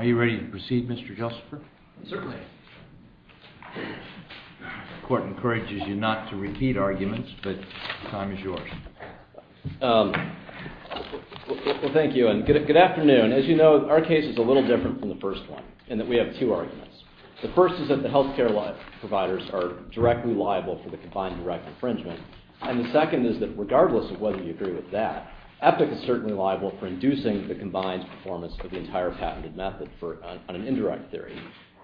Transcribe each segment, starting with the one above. Are you ready to proceed, Mr. Josepher? Certainly. The Court encourages you not to repeat arguments, but the time is yours. Well, thank you, and good afternoon. As you know, our case is a little different from the first one in that we have two arguments. The first is that the health care providers are directly liable for the combined direct infringement, and the second is that regardless of whether you agree with that, EPIC is certainly liable for inducing the combined performance of the entire patented method on an indirect theory.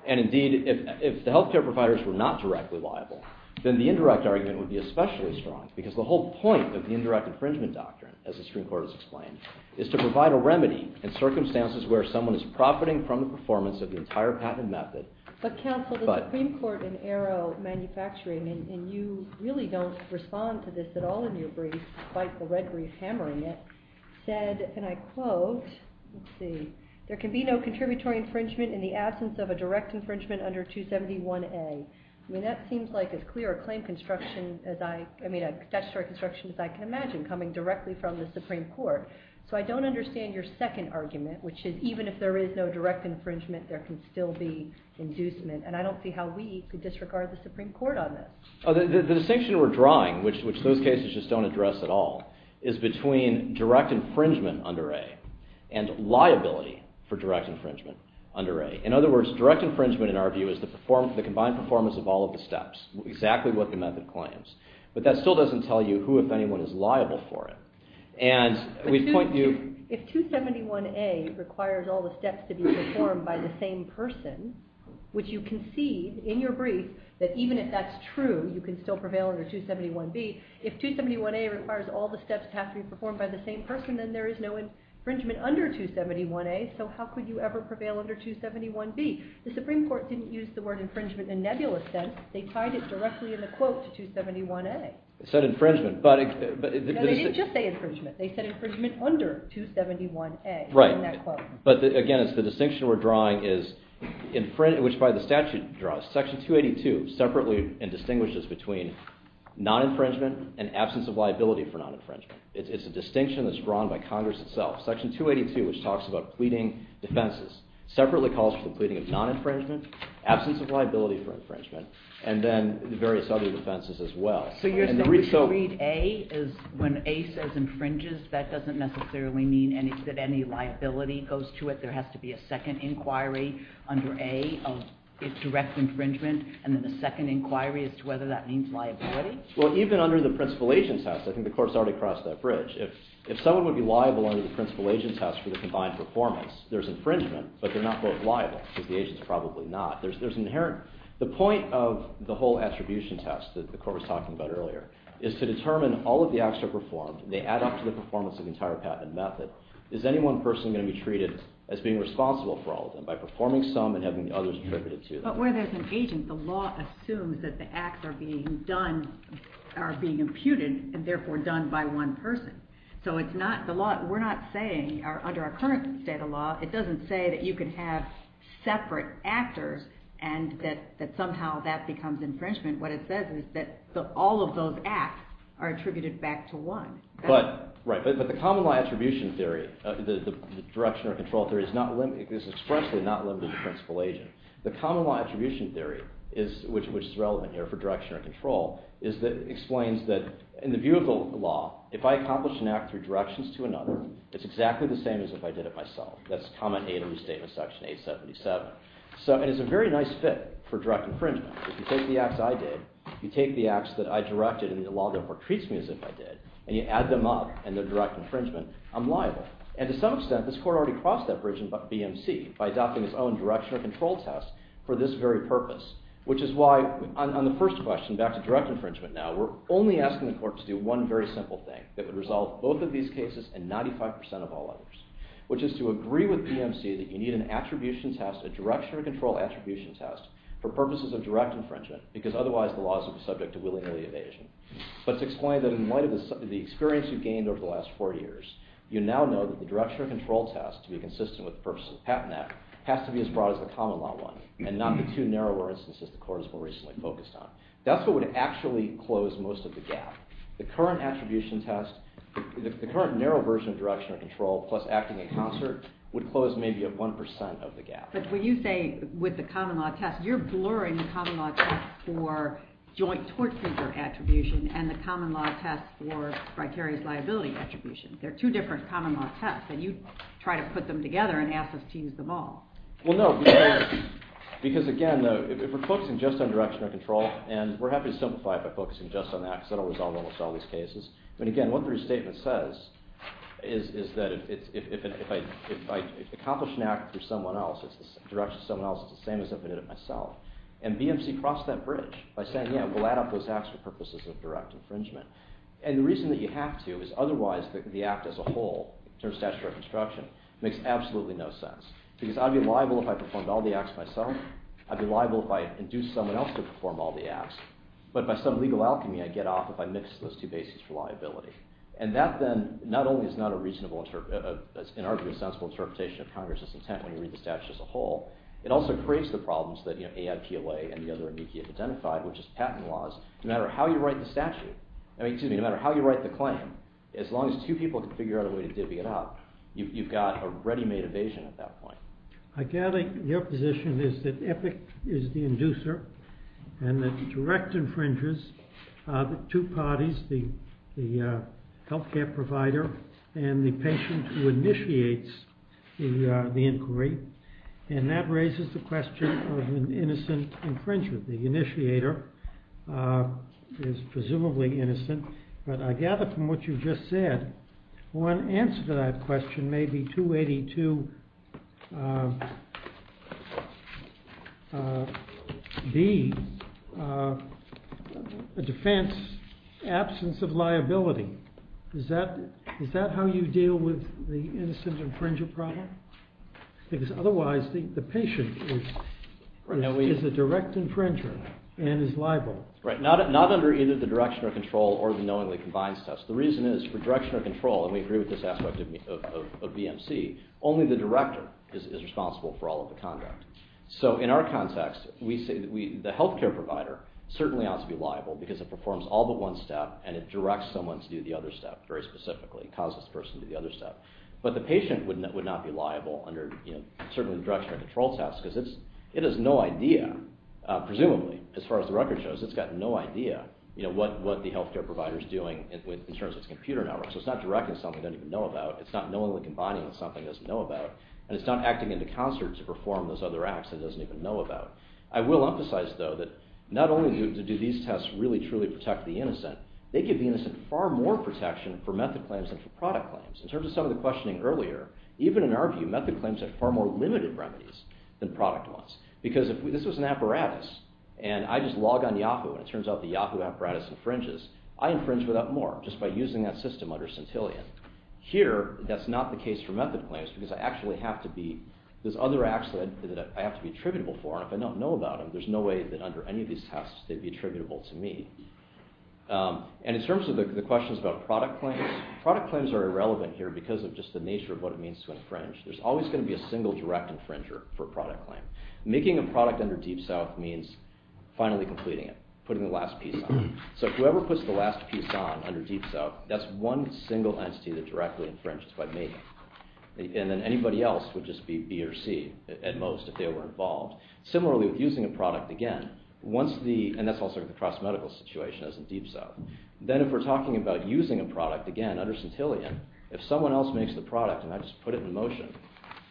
And indeed, if the health care providers were not directly liable, then the indirect argument would be especially strong, because the whole point of the indirect infringement doctrine, as the Supreme Court has explained, is to provide a remedy in circumstances where someone is profiting from the performance of the entire patented method. But, counsel, the Supreme Court in Aero Manufacturing, and you really don't respond to this at all in your brief, despite the red brief hammering it, said, and I quote, there can be no contributory infringement in the absence of a direct infringement under 271A. I mean, that seems like as clear a statutory construction as I can imagine, coming directly from the Supreme Court. So I don't understand your second argument, which is even if there is no direct infringement, there can still be inducement, and I don't see how we could disregard the Supreme Court on this. The distinction we're drawing, which those cases just don't address at all, is between direct infringement under A and liability for direct infringement under A. In other words, direct infringement, in our view, is the combined performance of all of the steps, exactly what the method claims. But that still doesn't tell you who, if anyone, is liable for it. If 271A requires all the steps to be performed by the same person, which you concede in your brief, that even if that's true, you can still prevail under 271B. If 271A requires all the steps to have to be performed by the same person, then there is no infringement under 271A. So how could you ever prevail under 271B? The Supreme Court didn't use the word infringement in nebulous sense. They tied it directly in the quote to 271A. No, they didn't just say infringement. They said infringement under 271A in that quote. Right. But again, the distinction we're drawing is, which by the statute draws, Section 282 separately distinguishes between non-infringement and absence of liability for non-infringement. It's a distinction that's drawn by Congress itself. Section 282, which talks about pleading defenses, separately calls for the pleading of non-infringement, absence of liability for infringement, and then various other defenses as well. So you're saying that if you read A, when A says infringes, that doesn't necessarily mean that any liability goes to it? There has to be a second inquiry under A of direct infringement, and then a second inquiry as to whether that means liability? Well, even under the principal-agent test, I think the Court's already crossed that bridge. If someone would be liable under the principal-agent test for the combined performance, there's infringement, but they're not both liable, because the agent's probably not. The point of the whole attribution test that the Court was talking about earlier is to determine all of the acts that are performed, and they add up to the performance of the entire patent and method. Is any one person going to be treated as being responsible for all of them by performing some and having the others attributed to them? But where there's an agent, the law assumes that the acts are being done, are being imputed, and therefore done by one person. So we're not saying, under our current state of law, it doesn't say that you can have separate actors and that somehow that becomes infringement. What it says is that all of those acts are attributed back to one. Right, but the common law attribution theory, the direction or control theory, is expressly not limited to principal-agent. The common law attribution theory, which is relevant here for direction or control, explains that in the view of the law, if I accomplish an act through directions to another, it's exactly the same as if I did it myself. That's Comment 8 of the Statement of Section 877. And it's a very nice fit for direct infringement. If you take the acts I did, you take the acts that I directed and the law therefore treats me as if I did, and you add them up and they're direct infringement, I'm liable. And to some extent, this Court already crossed that bridge in BMC by adopting its own direction or control test for this very purpose, which is why on the first question, back to direct infringement now, we're only asking the Court to do one very simple thing that would resolve both of these cases and 95% of all others, which is to agree with BMC that you need an attribution test, a direction or control attribution test, for purposes of direct infringement, because otherwise the law is subject to willingly evasion. But it's explained that in light of the experience you've gained over the last four years, you now know that the direction or control test, to be consistent with the purposes of the patent act, has to be as broad as the common law one and not be too narrow, for instance, as the Court has more recently focused on. That's what would actually close most of the gap. The current attribution test, the current narrow version of direction or control, plus acting in concert, would close maybe 1% of the gap. But when you say with the common law test, you're blurring the common law test for joint tort figure attribution and the common law test for criteria's liability attribution. They're two different common law tests, and you try to put them together and ask us to use them all. Well, no, because again, if we're focusing just on direction or control, and we're happy to simplify it by focusing just on that because that will resolve almost all these cases. But again, what the restatement says is that if I accomplish an act through someone else, it's the direction of someone else, it's the same as if I did it myself. And BMC crossed that bridge by saying, yeah, we'll add up those acts for purposes of direct infringement. And the reason that you have to is otherwise the act as a whole, in terms of statutory construction, makes absolutely no sense. Because I'd be liable if I performed all the acts myself. I'd be liable if I induced someone else to perform all the acts. But by some legal alchemy, I'd get off if I mixed those two bases for liability. And that then not only is not an arguably sensible interpretation of Congress's intent when you read the statute as a whole, it also creates the problems that AIPLA and the other amici have identified, which is patent laws. No matter how you write the claim, as long as two people can figure out a way to divvy it up, you've got a ready-made evasion at that point. I gather your position is that Epic is the inducer and that direct infringers are the two parties, the health care provider and the patient who initiates the inquiry. And that raises the question of an innocent infringer. The initiator is presumably innocent. But I gather from what you just said, one answer to that question may be 282B, a defense absence of liability. Is that how you deal with the innocent infringer problem? Because otherwise the patient is a direct infringer and is liable. Right. Not under either the direction or control or the knowingly combines test. The reason is for direction or control, and we agree with this aspect of BMC, only the director is responsible for all of the conduct. So in our context, the health care provider certainly ought to be liable because it performs all but one step and it directs someone to do the other step very specifically. It causes the person to do the other step. But the patient would not be liable under certainly the direction or control test because it has no idea, presumably, as far as the record shows, it's got no idea what the health care provider is doing in terms of its computer network. So it's not directing something it doesn't even know about. It's not knowingly combining with something it doesn't know about. And it's not acting into concert to perform those other acts it doesn't even know about. I will emphasize though that not only do these tests really truly protect the innocent, they give the innocent far more protection for method claims than for product claims. In terms of some of the questioning earlier, even in our view, method claims have far more limited remedies than product ones because if this was an apparatus and I just log on Yahoo and it turns out the Yahoo apparatus infringes, I infringe without more just by using that system under Centillion. Here, that's not the case for method claims because I actually have to be, there's other acts that I have to be attributable for and if I don't know about them, there's no way that under any of these tests they'd be attributable to me. And in terms of the questions about product claims, product claims are irrelevant here because of just the nature of what it means to infringe. There's always going to be a single direct infringer for a product claim. Making a product under Deep South means finally completing it, putting the last piece on it. So whoever puts the last piece on under Deep South, that's one single entity that directly infringes by me. And then anybody else would just be B or C at most if they were involved. Similarly with using a product again, once the, and that's also the cross-medical situation as in Deep South, then if we're talking about using a product again under Centillion, if someone else makes the product and I just put it in motion,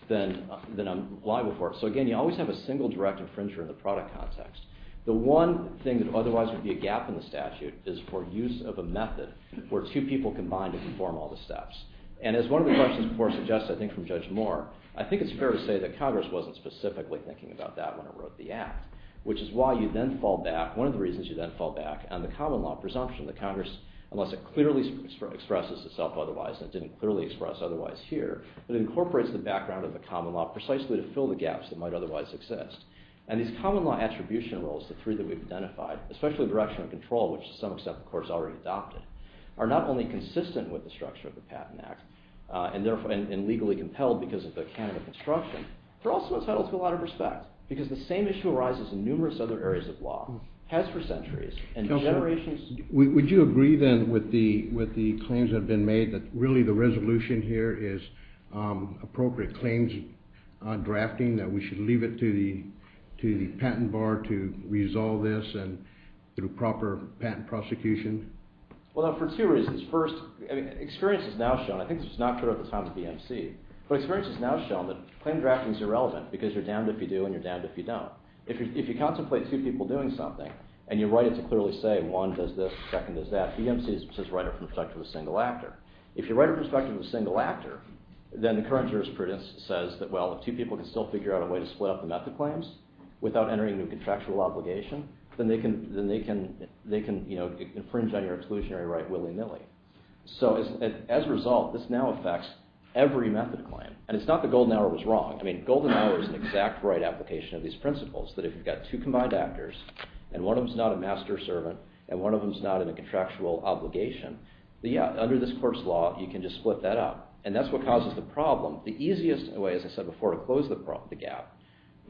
then I'm liable for it. So again, you always have a single direct infringer in the product context. The one thing that otherwise would be a gap in the statute is for use of a method where two people combine to perform all the steps. And as one of the questions before suggested, I think from Judge Moore, I think it's fair to say that Congress wasn't specifically thinking about that when it wrote the act, which is why you then fall back, one of the reasons you then fall back on the common law presumption that Congress, unless it clearly expresses itself otherwise and didn't clearly express otherwise here, that incorporates the background of the common law precisely to fill the gaps that might otherwise exist. And these common law attribution rules, the three that we've identified, especially direction of control, which to some extent the court has already adopted, are not only consistent with the structure of the Patent Act and legally compelled because of the canon of construction, they're also entitled to a lot of respect because the same issue arises in numerous other areas of law, has for centuries. Would you agree then with the claims that have been made that really the resolution here is appropriate claims drafting, that we should leave it to the patent bar to resolve this and through proper patent prosecution? Well, for two reasons. First, experience has now shown, I think this was not true at the time of the BMC, but experience has now shown that claim drafting is irrelevant because you're damned if you do and you're damned if you don't. If you contemplate two people doing something and you write it to clearly say one does this, the second does that, BMC says write it from the perspective of a single actor. If you write it from the perspective of a single actor, then the current jurisprudence says that, well, if two people can still figure out a way to split up the method claims without entering new contractual obligation, then they can infringe on your exclusionary right willy-nilly. So as a result, this now affects every method claim. And it's not that Golden Hour was wrong. I mean, Golden Hour is an exact right application of these principles that if you've got two combined actors and one of them is not a master servant and one of them is not in a contractual obligation, under this court's law, you can just split that up. And that's what causes the problem. The easiest way, as I said before, to close the gap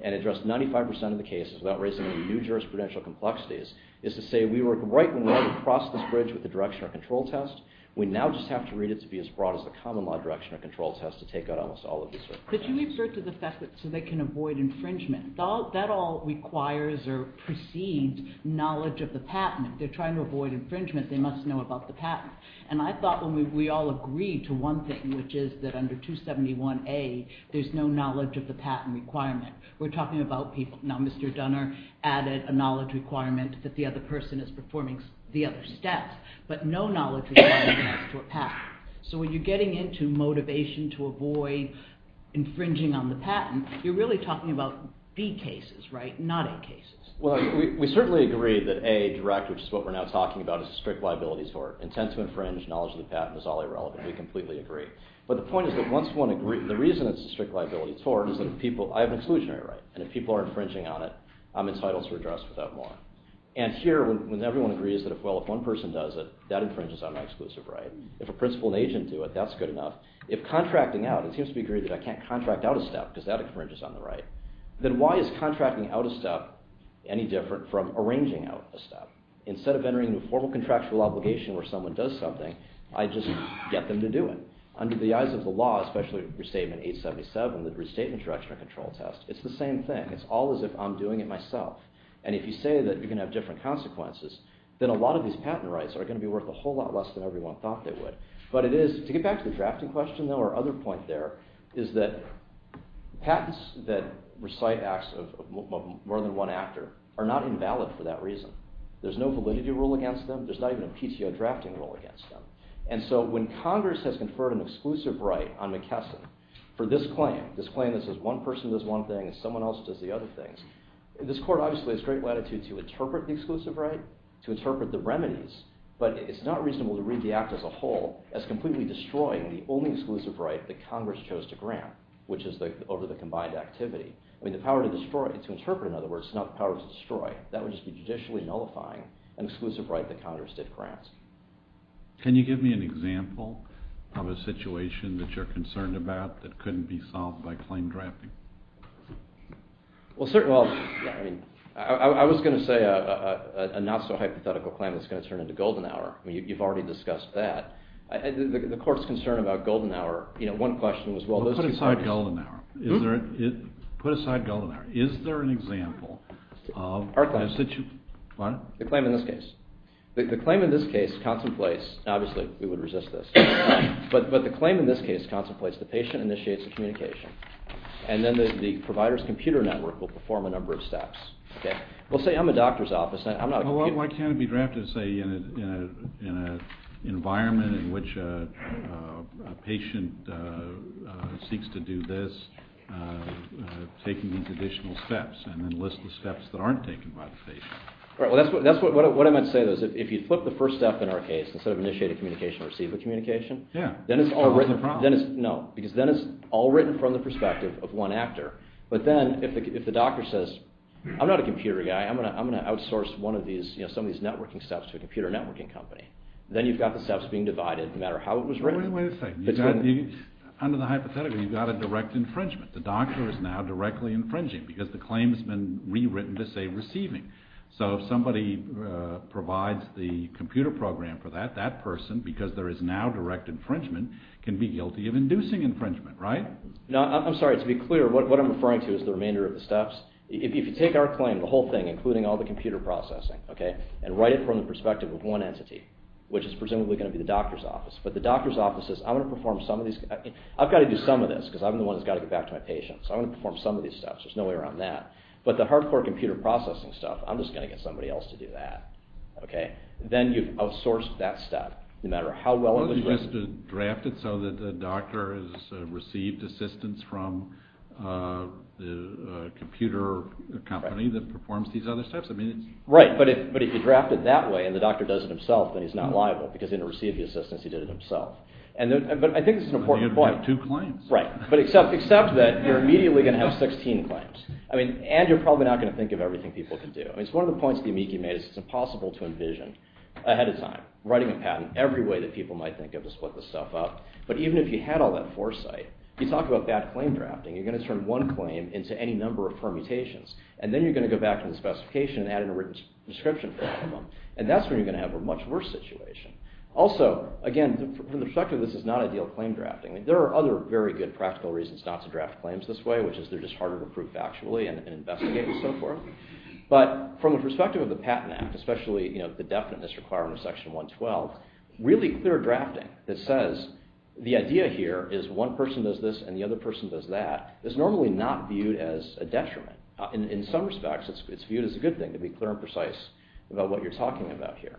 and address 95% of the cases without raising any new jurisprudential complexities is to say we work right and wrong across this bridge with the direction or control test. We now just have to read it to be as broad as the common law direction or control test to take out almost all of these. Could you revert to the fact that so they can avoid infringement? That all requires or precedes knowledge of the patent. If they're trying to avoid infringement, they must know about the patent. And I thought when we all agreed to one thing, which is that under 271A, there's no knowledge of the patent requirement. We're talking about people. Now, Mr. Dunner added a knowledge requirement that the other person is performing the other steps, but no knowledge of the patent. So when you're getting into motivation to avoid infringing on the patent, you're really talking about B cases, right, not A cases. Well, we certainly agree that A direct, which is what we're now talking about, is a strict liability tort. Intent to infringe, knowledge of the patent is all irrelevant. We completely agree. But the point is that once one agrees, the reason it's a strict liability tort is that I have an exclusionary right, and if people are infringing on it, I'm entitled to redress without more. And here, when everyone agrees that if one person does it, that infringes on my exclusive right. If a principal and agent do it, that's good enough. If contracting out, it seems to be agreed that I can't contract out a step because that infringes on the right. Then why is contracting out a step any different from arranging out a step? Instead of entering a formal contractual obligation where someone does something, I just get them to do it. Under the eyes of the law, especially Restatement 877, the Restatement Direction and Control Test, it's the same thing. It's all as if I'm doing it myself. And if you say that you're going to have different consequences, then a lot of these patent rights are going to be worth a whole lot less than everyone thought they would. But to get back to the drafting question, our other point there is that patents that recite acts of more than one actor are not invalid for that reason. There's no validity rule against them. There's not even a PTO drafting rule against them. And so when Congress has conferred an exclusive right on McKesson for this claim, this claim that says one person does one thing and someone else does the other things, this Court obviously has great latitude to interpret the exclusive right, to interpret the remedies, but it's not reasonable to read the act as a whole as completely destroying the only exclusive right that Congress chose to grant, which is over the combined activity. The power to destroy, to interpret, in other words, is not the power to destroy. That would just be judicially nullifying an exclusive right that Congress did grant. Can you give me an example of a situation that you're concerned about that couldn't be solved by claim drafting? Well, I was going to say a not-so-hypothetical claim that's going to turn into golden hour. You've already discussed that. The Court's concern about golden hour, one question was, well, those two parties— Put aside golden hour. Is there an example of— Our claim. What? The claim in this case. The claim in this case contemplates—obviously, we would resist this— but the claim in this case contemplates the patient initiates the communication, and then the provider's computer network will perform a number of steps. We'll say I'm a doctor's office, and I'm not— Well, why can't it be drafted, say, in an environment in which a patient seeks to do this, taking these additional steps, and then list the steps that aren't taken by the patient? Well, that's what I meant to say. If you flip the first step in our case, instead of initiate a communication, receive a communication, then it's all written from the perspective of one actor. But then if the doctor says, I'm not a computer guy, I'm going to outsource some of these networking steps to a computer networking company, then you've got the steps being divided no matter how it was written. Wait a second. Under the hypothetical, you've got a direct infringement. The doctor is now directly infringing because the claim has been rewritten to say receiving. So if somebody provides the computer program for that, that person, because there is now direct infringement, can be guilty of inducing infringement, right? No, I'm sorry. To be clear, what I'm referring to is the remainder of the steps. If you take our claim, the whole thing, including all the computer processing, and write it from the perspective of one entity, which is presumably going to be the doctor's office, but the doctor's office says, I'm going to perform some of these— I've got to do some of this because I'm the one who's got to get back to my patient, so I'm going to perform some of these steps. There's no way around that. But the hardcore computer processing stuff, I'm just going to get somebody else to do that. Then you've outsourced that step no matter how well it was written. Well, you just draft it so that the doctor has received assistance from the computer company that performs these other steps? Right, but if you draft it that way and the doctor does it himself, then he's not liable because in order to receive the assistance, he did it himself. But I think this is an important point. Then you'd have two claims. Right, except that you're immediately going to have 16 claims. I mean, and you're probably not going to think of everything people can do. I mean, it's one of the points that Yamiki made is it's impossible to envision ahead of time, writing a patent every way that people might think of to split this stuff up. But even if you had all that foresight, you talk about bad claim drafting, you're going to turn one claim into any number of permutations, and then you're going to go back to the specification and add in a written description for all of them, and that's when you're going to have a much worse situation. Also, again, from the perspective of this is not ideal claim drafting, there are other very good practical reasons not to draft claims this way, which is they're just harder to prove factually and investigate and so forth. But from the perspective of the Patent Act, especially the definiteness requirement of Section 112, really clear drafting that says the idea here is one person does this and the other person does that is normally not viewed as a detriment. In some respects, it's viewed as a good thing to be clear and precise about what you're talking about here.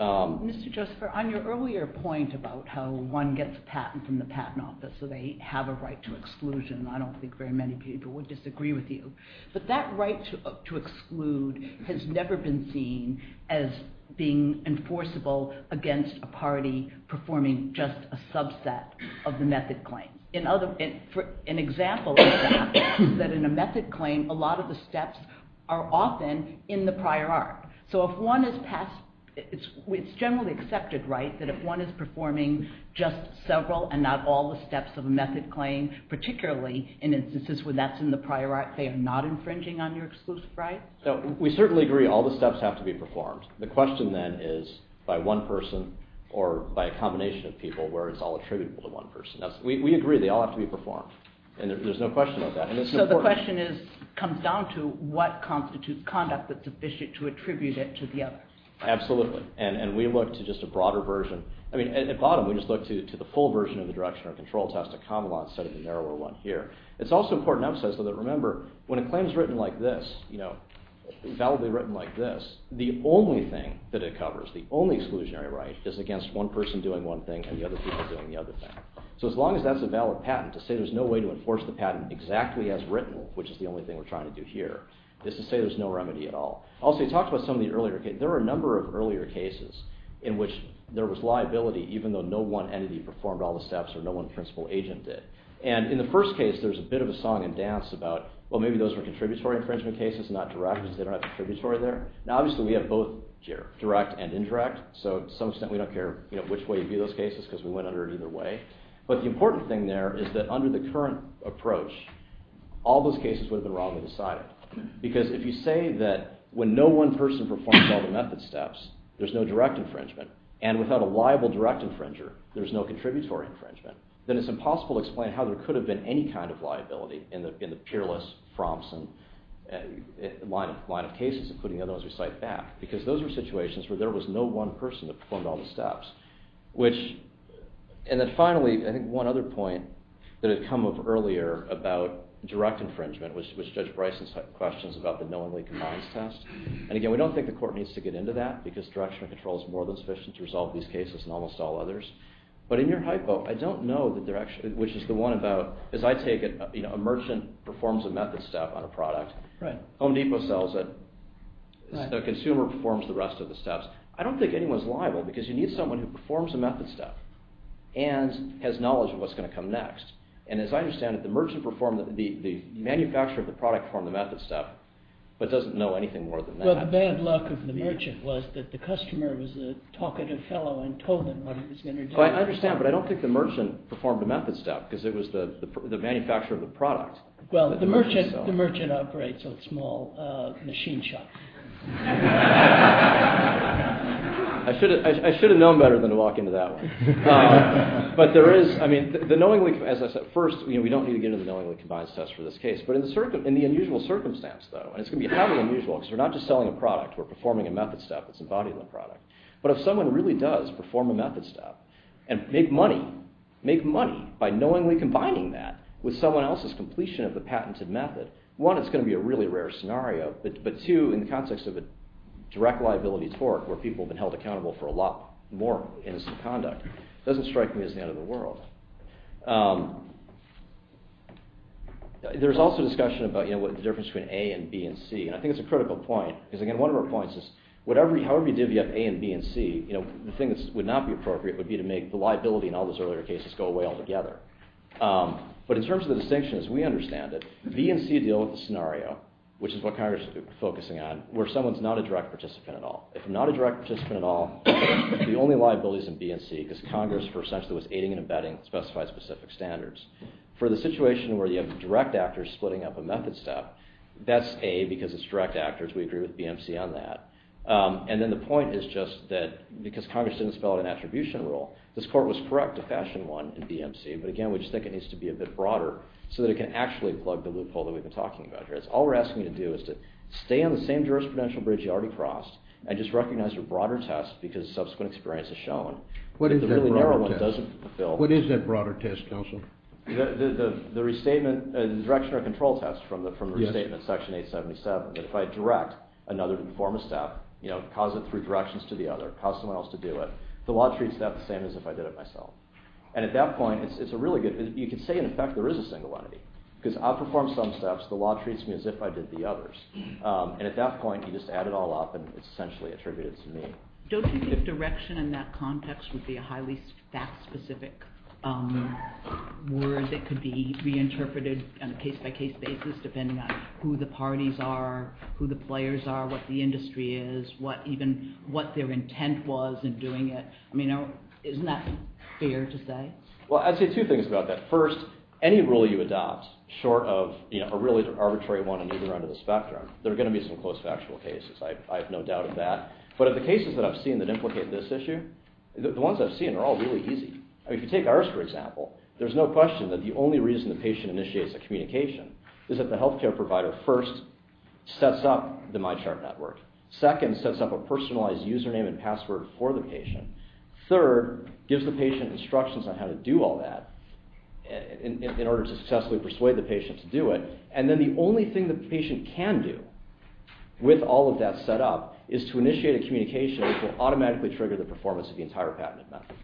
Mr. Joseph, on your earlier point about how one gets a patent from the patent office so they have a right to exclusion, I don't think very many people would disagree with you. But that right to exclude has never been seen as being enforceable against a party performing just a subset of the method claim. An example of that is that in a method claim, a lot of the steps are often in the prior arc. So if one is passed, it's generally accepted, right, that if one is performing just several and not all the steps of a method claim, particularly in instances where that's in the prior arc, they are not infringing on your exclusive right? We certainly agree all the steps have to be performed. The question then is by one person or by a combination of people where it's all attributable to one person. We agree they all have to be performed and there's no question about that. So the question comes down to what constitutes conduct that's sufficient to attribute it to the other. Absolutely, and we look to just a broader version. I mean at the bottom we just look to the full version of the Direction or Control Test, a common law instead of the narrower one here. It's also important to emphasize though that remember when a claim is written like this, validly written like this, the only thing that it covers, the only exclusionary right is against one person doing one thing and the other people doing the other thing. So as long as that's a valid patent, to say there's no way to enforce the patent exactly as written, which is the only thing we're trying to do here, is to say there's no remedy at all. Also you talked about some of the earlier cases. There are a number of earlier cases in which there was liability even though no one entity performed all the steps or no one principal agent did. And in the first case there's a bit of a song and dance about well maybe those were contributory infringement cases and not direct because they don't have contributory there. Now obviously we have both direct and indirect, so to some extent we don't care which way you view those cases because we went under either way. But the important thing there is that under the current approach, all those cases would have been wrongly decided. Because if you say that when no one person performs all the method steps, there's no direct infringement, and without a liable direct infringer, there's no contributory infringement, then it's impossible to explain how there could have been any kind of liability in the peerless, fromson line of cases, including the other ones we cite back. And then finally, I think one other point that had come up earlier about direct infringement, which was Judge Bryson's questions about the knowingly combines test. And again, we don't think the court needs to get into that because direction of control is more than sufficient to resolve these cases and almost all others. But in your hypo, I don't know the direction, which is the one about, as I take it, a merchant performs a method step on a product. Home Depot sells it. The consumer performs the rest of the steps. I don't think anyone's liable because you need someone who performs a method step and has knowledge of what's going to come next. And as I understand it, the merchant performed, the manufacturer of the product performed the method step, but doesn't know anything more than that. Well, the bad luck of the merchant was that the customer was a talkative fellow and told him what he was going to do. I understand, but I don't think the merchant performed the method step because it was the manufacturer of the product. Well, the merchant operates a small machine shop. I should have known better than to walk into that one. But there is, I mean, the knowingly, as I said, first, we don't need to get into the knowingly combines test for this case. But in the unusual circumstance, though, and it's going to be heavily unusual because we're not just selling a product. We're performing a method step that's embodied in the product. But if someone really does perform a method step and make money, make money by knowingly combining that with someone else's completion of the patented method, one, it's going to be a really rare scenario. But two, in the context of a direct liability torque where people have been held accountable for a lot more innocent conduct, it doesn't strike me as the end of the world. There's also discussion about the difference between A and B and C. And I think it's a critical point because, again, one of our points is however you divvy up A and B and C, the thing that would not be appropriate would be to make the liability in all those earlier cases go away altogether. But in terms of the distinction, as we understand it, B and C deal with the issue that I was focusing on where someone is not a direct participant at all. If not a direct participant at all, the only liabilities in B and C because Congress essentially was aiding and abetting specified specific standards. For the situation where you have direct actors splitting up a method step, that's A because it's direct actors. We agree with B and C on that. And then the point is just that because Congress didn't spell out an attribution rule, this court was correct to fashion one in B and C. But, again, we just think it needs to be a bit broader so that it can actually plug the loophole that we've been talking about here. It's all we're asking you to do is to stay on the same jurisprudential bridge you already crossed and just recognize your broader test because subsequent experience has shown that the really narrow one doesn't fulfill. What is that broader test, counsel? The restatement, the direction or control test from the restatement section 877, that if I direct another to perform a step, cause it three directions to the other, cause someone else to do it, the law treats that the same as if I did it myself. And at that point, it's a really good, you can say in effect there is a single entity because I perform some steps, the law treats me as if I did the others. And at that point, you just add it all up and it's essentially attributed to me. Don't you think the direction in that context would be a highly fact-specific word that could be reinterpreted on a case-by-case basis depending on who the parties are, who the players are, what the industry is, even what their intent was in doing it. I mean, isn't that fair to say? Well, I'd say two things about that. First, any rule you adopt, short of a really arbitrary one, even under the spectrum, there are going to be some close factual cases. I have no doubt of that. But of the cases that I've seen that implicate this issue, the ones I've seen are all really easy. If you take ours, for example, there's no question that the only reason the patient initiates a communication is that the healthcare provider first sets up the MyChart network, second sets up a personalized username and password for the patient, third gives the patient instructions on how to do all that in order to successfully persuade the patient to do it, and then the only thing the patient can do with all of that set up is to initiate a communication which will automatically trigger the performance of the entire patented method.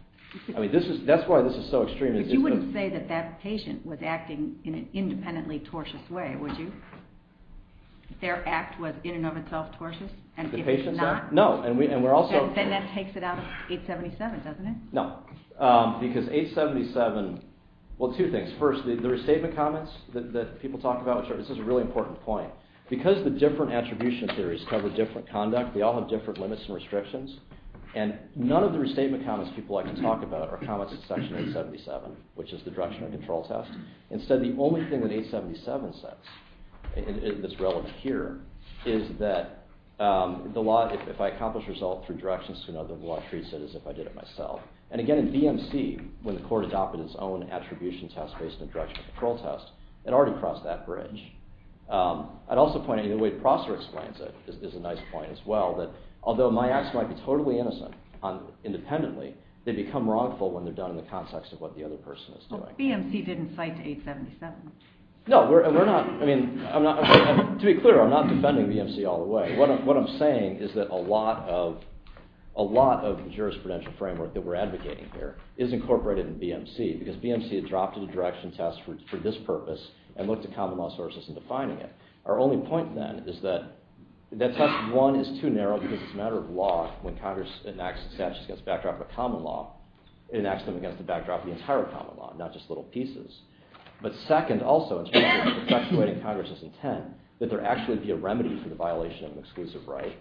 I mean, that's why this is so extreme. But you wouldn't say that that patient was acting in an independently tortious way, would you? Their act was in and of itself tortious? The patient's act? No. Then that takes it out of 877, doesn't it? No, because 877... Well, two things. First, the restatement comments that people talk about, this is a really important point. Because the different attribution theories cover different conduct, they all have different limits and restrictions, and none of the restatement comments people like to talk about are comments in Section 877, which is the directional control test. Instead, the only thing that 877 says that's relevant here is that if I accomplish a result through directions, the law treats it as if I did it myself. And again, in BMC, when the court adopted its own attribution test based on directional control test, it already crossed that bridge. I'd also point out, and the way Prosser explains it is a nice point as well, that although my acts might be totally innocent independently, they become wrongful when they're done in the context of what the other person is doing. But BMC didn't cite 877. No, we're not... To be clear, I'm not defending BMC all the way. What I'm saying is that a lot of the jurisprudential framework that we're advocating here is incorporated in BMC, because BMC adopted a direction test for this purpose and looked at common law sources in defining it. Our only point, then, is that test 1 is too narrow because it's a matter of law. When Congress enacts a statute against the backdrop of a common law, it enacts them against the backdrop of the entire common law, not just little pieces. But second, also, in terms of perpetuating Congress's intent, that there actually be a remedy for the violation of an exclusive right,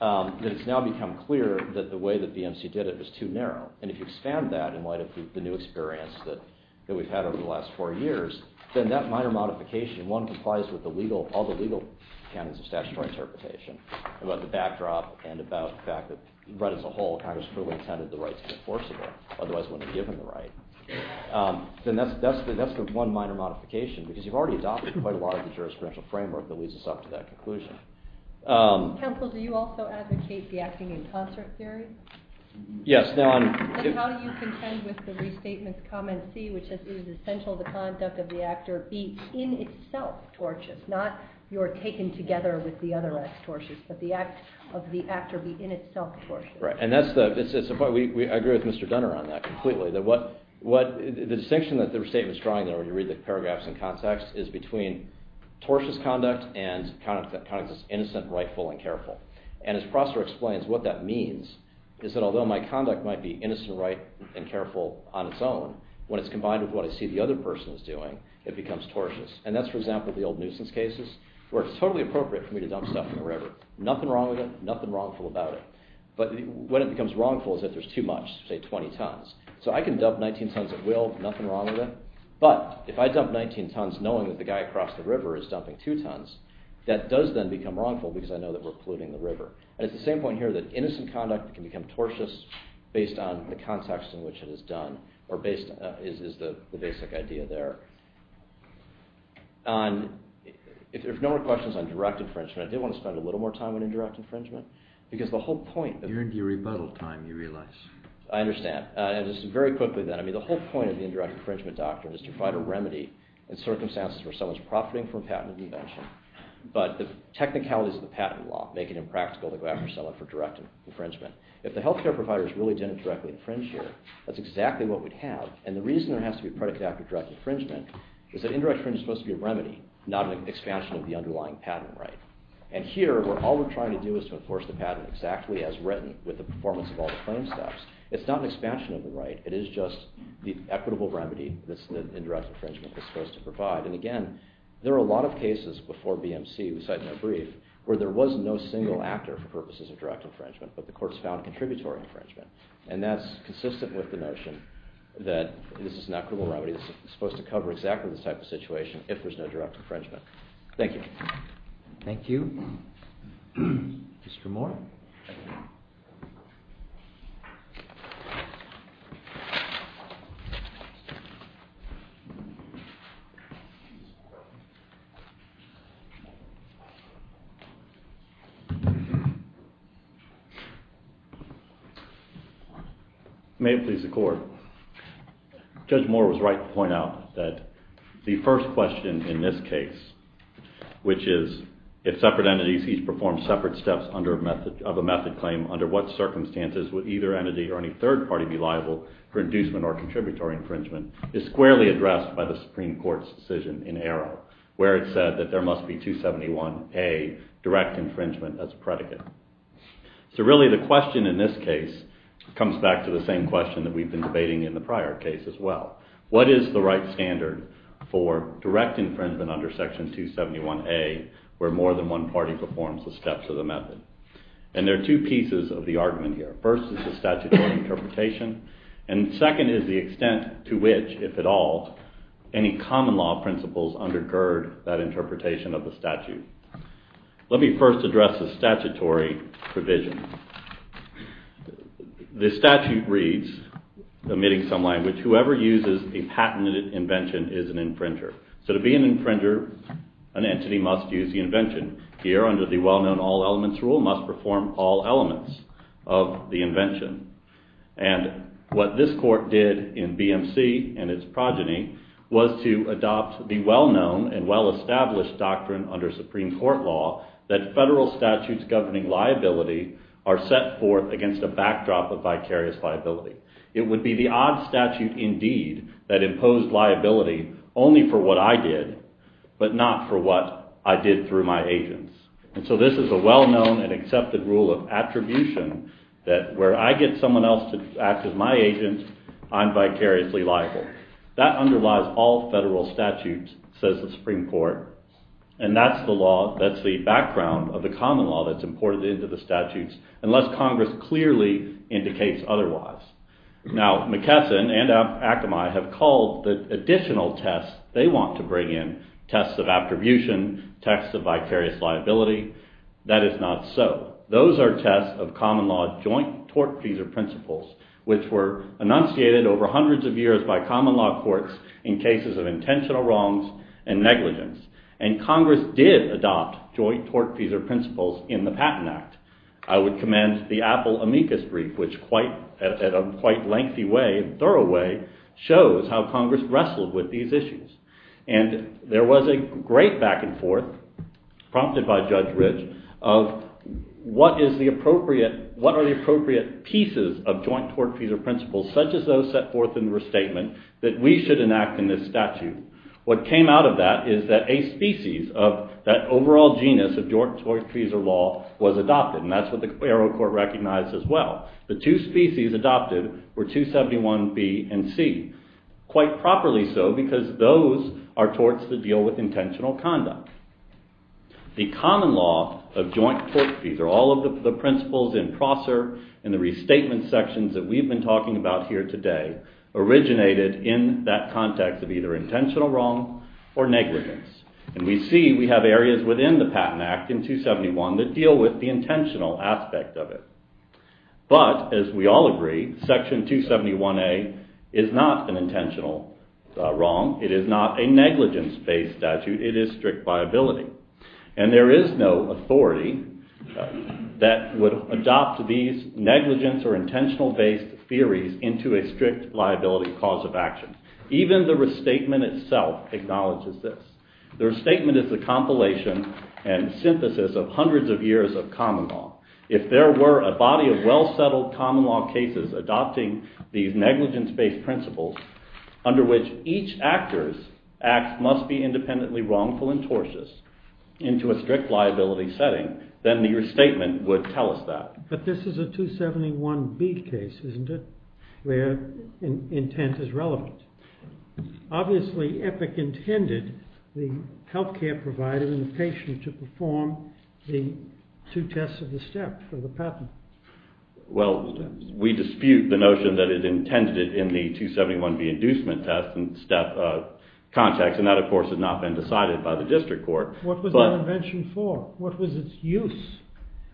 that it's now become clear that the way that BMC did it was too narrow. And if you expand that in light of the new experience that we've had over the last four years, then that minor modification, one, complies with all the legal canons of statutory interpretation about the backdrop and about the fact that right as a whole, Congress truly intended the right to be enforceable, otherwise it wouldn't have given the right. Then that's the one minor modification because you've already adopted quite a lot of the jurisdictional framework that leads us up to that conclusion. Counsel, do you also advocate the acting in concert theory? Yes. Then how do you contend with the restatement's comment C, which is that it is essential the conduct of the actor be in itself tortious, not you're taken together with the other act tortious, but the act of the actor be in itself tortious. Right, and I agree with Mr. Dunner on that completely, that the distinction that the restatement's drawing there when you read the paragraphs in context is between tortious conduct and conduct that's innocent, rightful, and careful. And as Prosser explains, what that means is that although my conduct might be innocent, right, and careful on its own, when it's combined with what I see the other person is doing, it becomes tortious. And that's, for example, the old nuisance cases where it's totally appropriate for me to dump stuff in the river. Nothing wrong with it, nothing wrongful about it. But when it becomes wrongful is if there's too much, say 20 tons. So I can dump 19 tons at will, nothing wrong with it. But if I dump 19 tons knowing that the guy across the river is dumping 2 tons, that does then become wrongful because I know that we're polluting the river. And it's the same point here that innocent conduct can become tortious based on the context in which it is done is the basic idea there. If there's no more questions on direct infringement, I did want to spend a little more time on indirect infringement because the whole point... You're into your rebuttal time, you realize. I understand. And just very quickly then, the whole point of the indirect infringement doctrine is to find a remedy in circumstances where someone's profiting from patent invention. But the technicalities of the patent law make it impractical to go after someone for direct infringement. If the health care providers really didn't directly infringe here, that's exactly what we'd have. And the reason there has to be a predicate after direct infringement is that indirect infringement is supposed to be a remedy, not an expansion of the underlying patent right. And here, all we're trying to do is to enforce the patent exactly as written with the performance of all the claim steps. It's not an expansion of the right. It is just the equitable remedy that indirect infringement is supposed to provide. And again, there are a lot of cases before BMC, we cite in our brief, where there was no single actor for purposes of direct infringement, but the courts found contributory infringement. And that's consistent with the notion that this is an equitable remedy that's supposed to cover exactly this type of situation if there's no direct infringement. Thank you. Thank you. Mr. Moore. May it please the Court. Judge Moore was right to point out that the first question in this case, which is if separate entities each perform separate steps of a method claim, under what circumstances would either entity or any third party be liable for inducement or contributory infringement, is squarely addressed by the Supreme Court's decision in Arrow where it said that there must be 271A, direct infringement as predicate. So really, the question in this case comes back to the same question that we've been debating in the prior case as well. What is the right standard for direct infringement under Section 271A where more than one party performs the steps of the method? And there are two pieces of the argument here. First is the statutory interpretation, and second is the extent to which, if at all, any common law principles undergird that interpretation of the statute. Let me first address the statutory provision. The statute reads, omitting some language, whoever uses a patented invention is an infringer. So to be an infringer, an entity must use the invention. Here, under the well-known all elements rule, must perform all elements of the invention. And what this court did in BMC and its progeny was to adopt the well-known and well-established doctrine under Supreme Court law that federal statutes governing liability are set forth against a backdrop of vicarious liability. It would be the odd statute indeed that imposed liability only for what I did, but not for what I did through my agents. And so this is a well-known and accepted rule of attribution that where I get someone else to act as my agent, I'm vicariously liable. That underlies all federal statutes, says the Supreme Court. And that's the background of the common law that's imported into the statutes, unless Congress clearly indicates otherwise. Now McKesson and Akamai have called the additional tests they want to bring in, tests of attribution, tests of vicarious liability. That is not so. Those are tests of common law joint tortfeasor principles, which were enunciated over hundreds of years by common law courts in cases of intentional wrongs and negligence. And Congress did adopt joint tortfeasor principles in the Patent Act. I would commend the Apple amicus brief, which at a quite lengthy way, thorough way, shows how Congress wrestled with these issues. And there was a great back and forth, prompted by Judge Ridge, of what are the appropriate pieces of joint tortfeasor principles, such as those set forth in the restatement, that we should enact in this statute. What came out of that is that a species of that overall genus of joint tortfeasor law was adopted. And that's what the federal court recognized as well. The two species adopted were 271B and 271C. Quite properly so, because those are torts that deal with intentional conduct. The common law of joint tortfeasor, all of the principles in Prosser and the restatement sections that we've been talking about here today, originated in that context of either intentional wrong or negligence. And we see we have areas within the Patent Act in 271 that deal with the intentional aspect of it. But, as we all agree, Section 271A is not an intentional wrong. It is not a negligence-based statute. It is strict liability. And there is no authority that would adopt these negligence or intentional-based theories into a strict liability cause of action. Even the restatement itself acknowledges this. The restatement is a compilation and synthesis of hundreds of years of common law. If there were a body of well-settled common law cases adopting these negligence-based principles, under which each actor's acts must be independently wrongful and tortious, into a strict liability setting, then the restatement would tell us that. But this is a 271B case, isn't it? Where intent is relevant. Obviously, Epic intended the health care provider and the patient to perform the two tests of the step for the patent. Well, we dispute the notion that it intended it in the 271B inducement test and step context, and that, of course, has not been decided by the district court. What was that invention for? What was its use?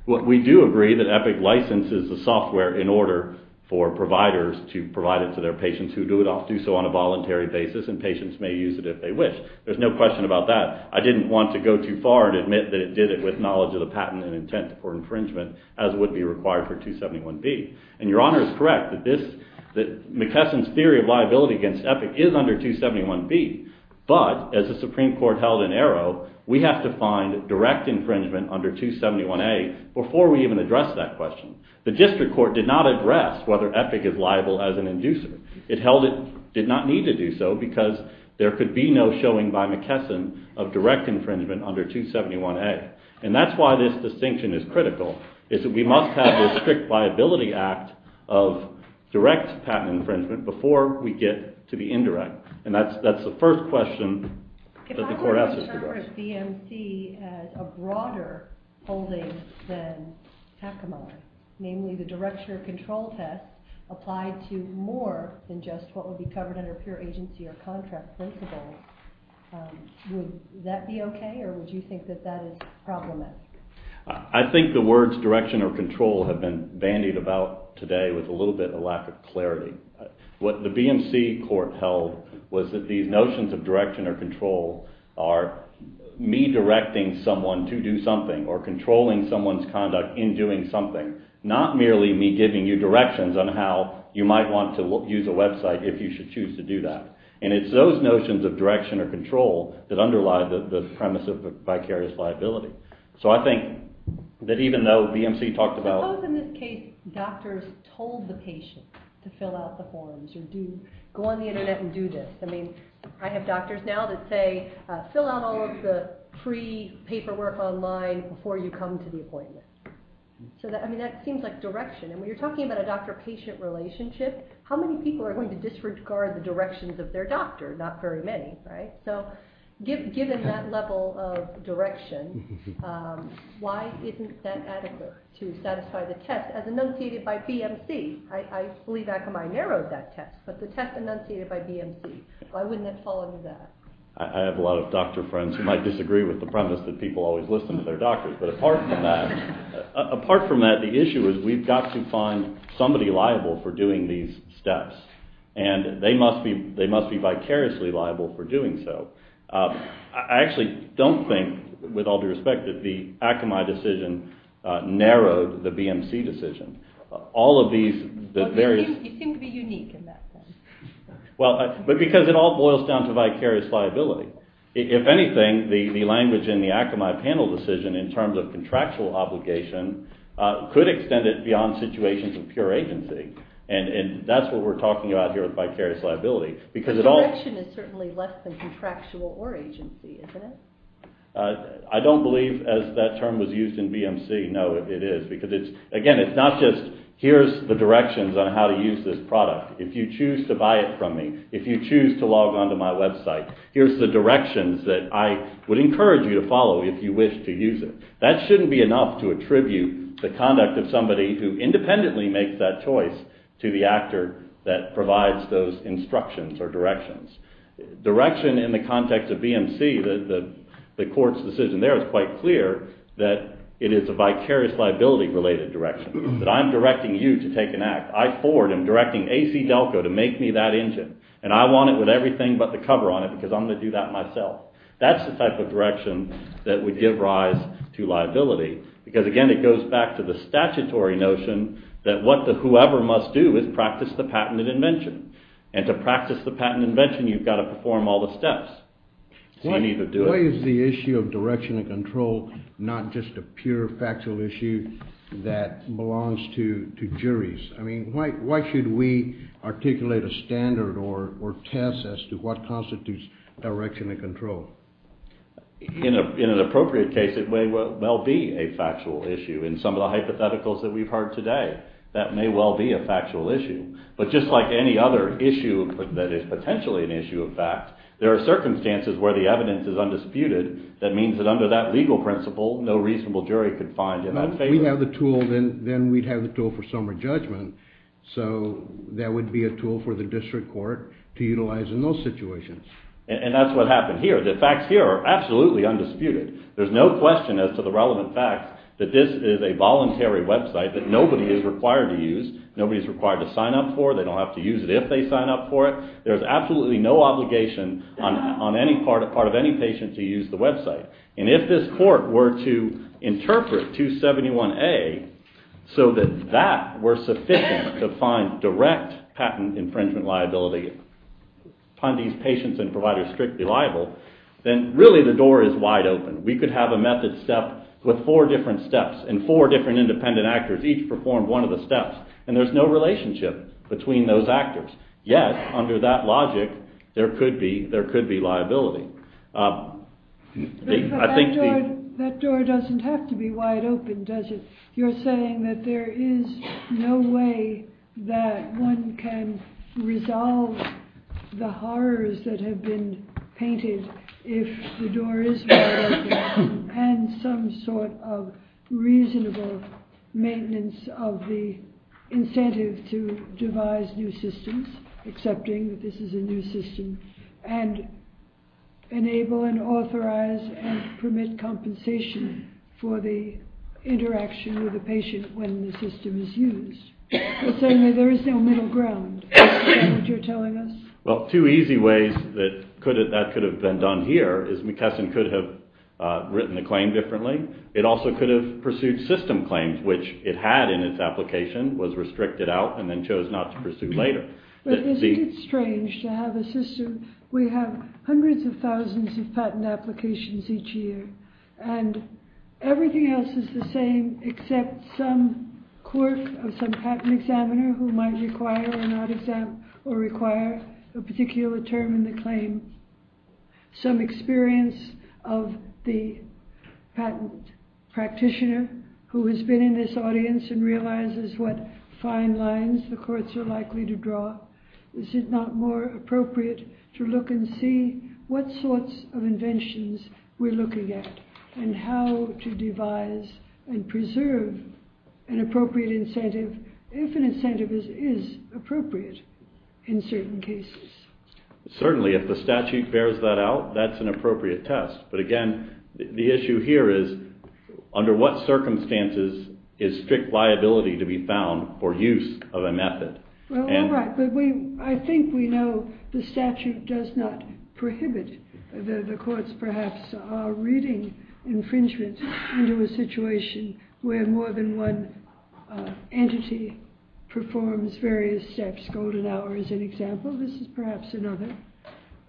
We do agree that Epic licenses the software in order for providers to provide it to their patients who do so on a voluntary basis, and patients may use it if they wish. There's no question about that. I didn't want to go too far and admit that it did it with knowledge of the patent and intent for infringement, as would be required for 271B. And Your Honor is correct that McKesson's theory of liability against Epic is under 271B, but, as the Supreme Court held in Arrow, we have to find direct infringement under 271A before we even address that question. The district court did not address whether Epic is liable as an inducer. It held it did not need to do so because there could be no showing by McKesson of direct infringement under 271A. And that's why this distinction is critical, is that we must have this strict liability act of direct patent infringement before we get to the indirect. And that's the first question that the court asked us to address. If I were to interpret BMC as a broader holding than Hackemuller, namely the directure of control test applied to more than just what would be covered under pure agency or contract placeable, would that be okay or would you think that that is problematic? I think the words direction or control have been bandied about today with a little bit of lack of clarity. What the BMC court held was that these notions of direction or control are me directing someone to do something or controlling someone's conduct in doing something, not merely me giving you directions on how you might want to use a website if you should choose to do that. And it's those notions of direction or control that underlie the premise of vicarious liability. So I think that even though BMC talked about... Suppose in this case doctors told the patient to fill out the forms or go on the internet and do this. I mean, I have doctors now that say, fill out all of the free paperwork online before you come to the appointment. I mean, that seems like direction. And when you're talking about a doctor-patient relationship, how many people are going to disregard the directions of their doctor? Not very many, right? So given that level of direction, why isn't that adequate to satisfy the test as enunciated by BMC? I believe Akamai narrowed that test, but the test enunciated by BMC. Why wouldn't that fall under that? I have a lot of doctor friends who might disagree with the premise that people always listen to their doctors, but apart from that, the issue is we've got to find somebody liable for doing these steps, and they must be vicariously liable for doing so. I actually don't think, with all due respect, that the Akamai decision narrowed the BMC decision. It seemed to be unique in that sense. But because it all boils down to vicarious liability. If anything, the language in the Akamai panel decision in terms of contractual obligation could extend it beyond situations of pure agency. And that's what we're talking about here with vicarious liability. The direction is certainly less than contractual or agency, isn't it? I don't believe that term was used in BMC. No, it is, because again, it's not just here's the directions on how to use this product. If you choose to buy it from me, if you choose to log on to my website, here's the directions that I would encourage you to follow if you wish to use it. That shouldn't be enough to attribute the conduct of somebody who independently makes that choice to the actor that provides those instructions or directions. Direction in the context of BMC, the court's decision there is quite clear that it is a vicarious liability related direction. That I'm directing you to take an act. I, Ford, am directing ACDelco to make me that engine. And I want it with everything but the cover on it, because I'm going to do that myself. That's the type of direction that would give rise to liability. Because again, it goes back to the statutory notion that whoever must do is practice the patent and invention. And to practice the patent and invention, you've got to perform all the steps. So you need to do it. Why is the issue of direction and control not just a pure factual issue that belongs to juries? I mean, why should we articulate a standard or test as to what constitutes direction and control? In an appropriate case, it may well be a factual issue. In some of the hypotheticals that we've heard today, that may well be a factual issue. But just like any other issue that is potentially an issue of fact, there are circumstances where the evidence is undisputed. That means that under that legal principle, no reasonable jury could find in that favor. If we'd have the tool, then we'd have the tool for summer judgment. So that would be a tool for the district court to utilize in those situations. And that's what happened here. The facts here are absolutely undisputed. There's no question as to the relevant facts that this is a voluntary website that nobody is required to use. Nobody is required to sign up for it. They don't have to use it if they sign up for it. There's absolutely no obligation on any part of any patient to use the website. And if this court were to interpret 271A so that that were sufficient to find direct patent infringement liability upon these patients and providers strictly liable, then really the door is wide open. We could have a method step with four different steps and four different independent actors each perform one of the steps. And there's no relationship between those actors. Yet, under that logic, there could be liability. That door doesn't have to be wide open, does it? You're saying that there is no way that one can resolve the horrors that have been painted if the door is wide open and some sort of reasonable maintenance of the incentive to devise new systems, accepting that this is a new system, and enable and authorize and permit compensation for the interaction with the patient when the system is used. But certainly there is no middle ground, is what you're telling us. Well, two easy ways that could have been done here is McKesson could have written the claim differently. It also could have pursued system claims, which it had in its application, was restricted out, and then chose not to pursue later. But isn't it strange to have a system where you have hundreds of thousands of patent applications each year and everything else is the same except some quirk of some patent examiner who might require or not exam or require a particular term in the claim, some experience of the patent practitioner who has been in this audience and realizes what fine lines the courts are likely to draw? Is it not more appropriate to look and see what sorts of inventions we're looking at and how to devise and preserve an appropriate incentive if an incentive is appropriate in certain cases? Certainly, if the statute bears that out, that's an appropriate test. But again, the issue here is under what circumstances is strict liability to be found for use of a method? Well, all right, but I think we know the statute does not prohibit. The courts perhaps are reading infringement into a situation where more than one entity performs various steps. Golden Hour is an example. This is perhaps another.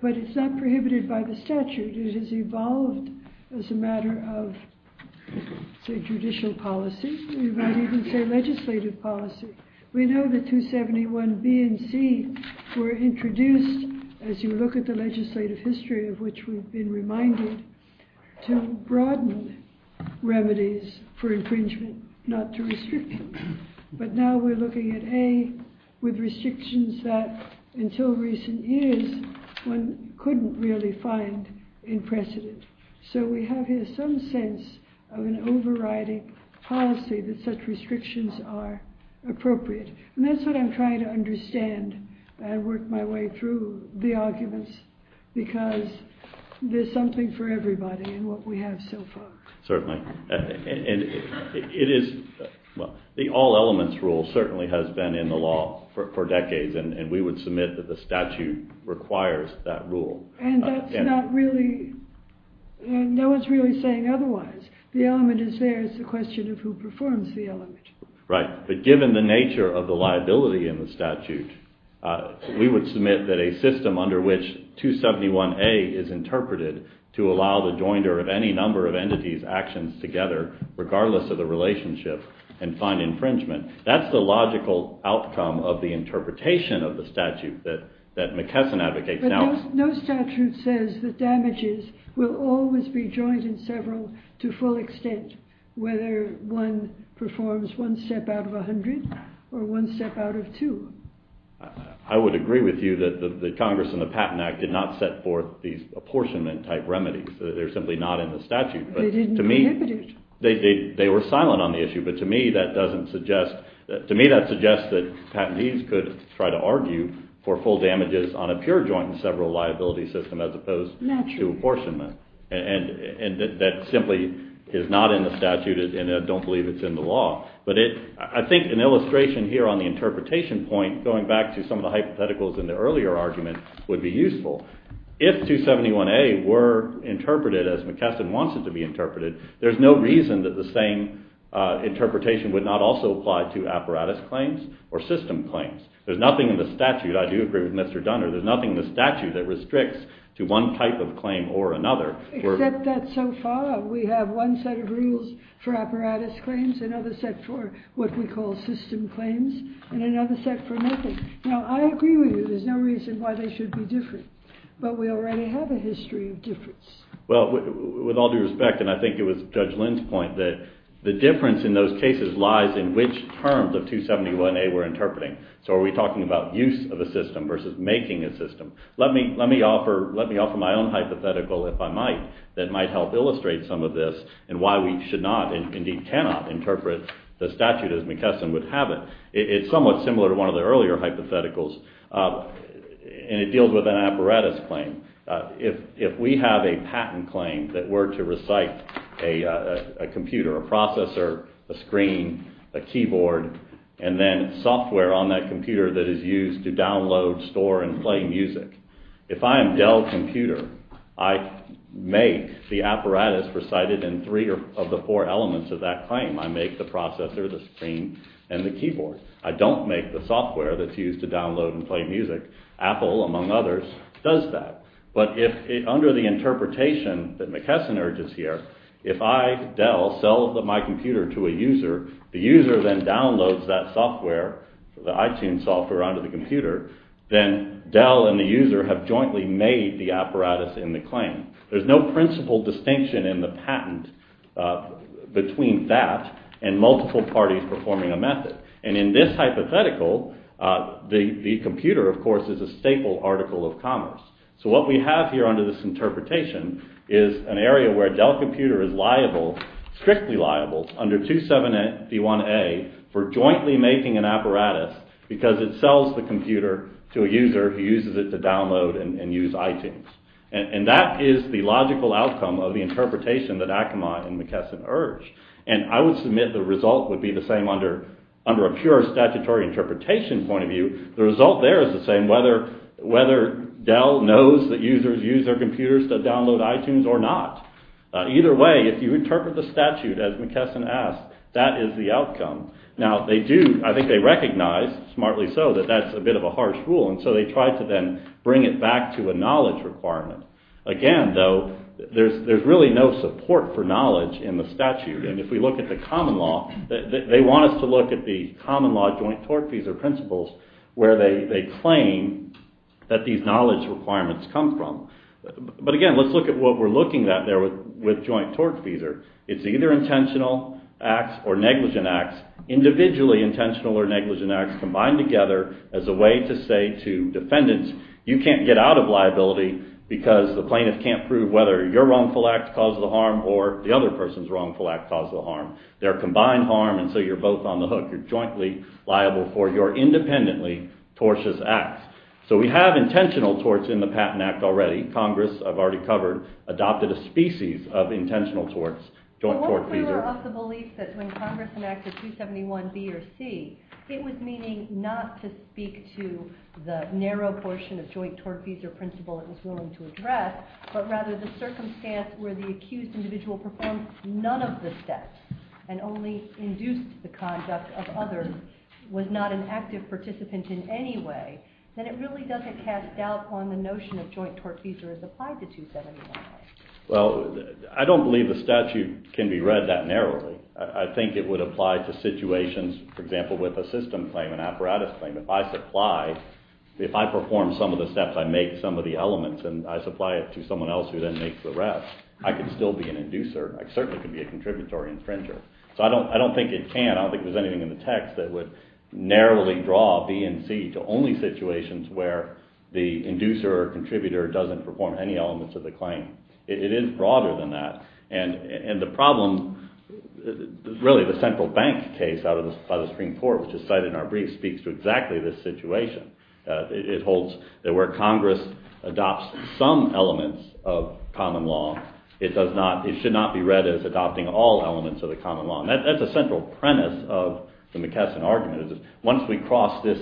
But it's not prohibited by the statute. It has evolved as a matter of, say, judicial policy. You might even say legislative policy. We know that 271B and C were introduced as you look at the legislative history of which we've been reminded to broaden remedies for infringement, not to restrict them. But now we're looking at A, with restrictions that until recent years one couldn't really find in precedent. So we have here some sense of an overriding policy that such restrictions are appropriate. And that's what I'm trying to understand. I work my way through the arguments because there's something for everybody in what we have so far. Certainly. And it is... Well, the all-elements rule certainly has been in the law for decades, and we would submit that the statute requires that rule. And that's not really... No one's really saying otherwise. The element is there. It's a question of who performs the element. Right. But given the nature of the liability in the statute, we would submit that a system under which 271A is interpreted to allow the joinder of any number of entities' actions together, regardless of the relationship, and find infringement. That's the logical outcome of the interpretation of the statute that McKesson advocates. But no statute says that damages will always be joined in several to full extent, whether one performs one step out of 100 or one step out of two. I would agree with you that the Congress and the Patent Act did not set forth these apportionment-type remedies. They're simply not in the statute. They didn't prohibit it. They were silent on the issue, but to me that doesn't suggest... Patentees could try to argue for full damages on a pure joint-in-several liability system as opposed to apportionment. And that simply is not in the statute and I don't believe it's in the law. But I think an illustration here on the interpretation point, going back to some of the hypotheticals in the earlier argument, would be useful. If 271A were interpreted as McKesson wants it to be interpreted, there's no reason that the same interpretation would not also apply to apparatus claims or system claims. There's nothing in the statute, I do agree with Mr. Dunner, there's nothing in the statute that restricts to one type of claim or another. Except that so far we have one set of rules for apparatus claims, another set for what we call system claims, and another set for methods. Now, I agree with you there's no reason why they should be different, but we already have a history of difference. Well, with all due respect, and I think it was Judge Lynn's point that the difference in those cases lies in which terms of 271A we're interpreting. So are we talking about use of a system versus making a system? Let me offer my own hypothetical, if I might, that might help illustrate some of this and why we should not, and indeed cannot, interpret the statute as McKesson would have it. It's somewhat similar to one of the earlier hypotheticals and it deals with an apparatus claim. If we have a patent claim that were to recite a computer, a processor, a screen, a keyboard, and then software on that computer that is used to download, store, and play music, if I am Dell Computer, I make the apparatus recited in three of the four elements of that claim. I make the processor, the screen, and the keyboard. I don't make the software that's used to download and play music. Apple, among others, does that. But under the interpretation that McKesson urges here, if I, Dell, sell my computer to a user, the user then downloads that software, the iTunes software, onto the computer, then Dell and the user have jointly made the apparatus in the claim. There's no principal distinction in the patent between that and multiple parties performing a method. And in this hypothetical, the computer, of course, is a staple article of commerce. So what we have here under this interpretation is an area where Dell Computer is liable, strictly liable, under 271A for jointly making an apparatus because it sells the computer to a user who uses it to download and use iTunes. And that is the logical outcome of the interpretation that Ackermann and McKesson urge. And I would submit the result would be the same under a pure statutory interpretation point of view. The result there is the same, whether Dell knows that users use their computers to download iTunes or not. Either way, if you interpret the statute, as McKesson asked, that is the outcome. Now, they do, I think they recognize, smartly so, that that's a bit of a harsh rule, and so they try to then bring it back to a knowledge requirement. Again, though, there's really no support for knowledge in the statute. And if we look at the common law, they want us to look at the common law joint tort fees or principles where they claim that these knowledge requirements come from. But again, let's look at what we're looking at there with joint tort fees. It's either intentional acts or negligent acts, individually intentional or negligent acts combined together as a way to say to defendants, you can't get out of liability because the plaintiff can't prove whether your wrongful act caused the harm or the other person's wrongful act caused the harm. They're a combined harm, and so you're both on the hook. You're jointly liable for your independently tortious acts. So we have intentional torts in the Patent Act already. Congress, I've already covered, adopted a species of intentional torts, joint tort fees. But what if we were of the belief that when Congress enacted 271B or C, it was meaning not to speak to the narrow portion of joint tort fees or principle it was willing to address, but rather the circumstance where the accused individual performed none of the steps and only induced the conduct of others, was not an active participant in any way, then it really doesn't cast doubt on the notion of joint tort fees as applied to 271B. Well, I don't believe the statute can be read that narrowly. I think it would apply to situations, for example, with a system claim, an apparatus claim. If I supply, if I perform some of the steps, I make some of the elements, and I supply it to someone else who then makes the rest, I could still be an inducer. I certainly could be a contributory infringer. So I don't think it can. I don't think there's anything in the text that would narrowly draw B and C to only situations where the inducer or contributor doesn't perform any elements of the claim. It is broader than that. And the problem, really, the central bank case by the Supreme Court, which is cited in our brief, speaks to exactly this situation. It holds that where Congress adopts some elements of common law, it should not be read as adopting all elements of the common law. And that's a central premise of the McKesson argument. Once we cross this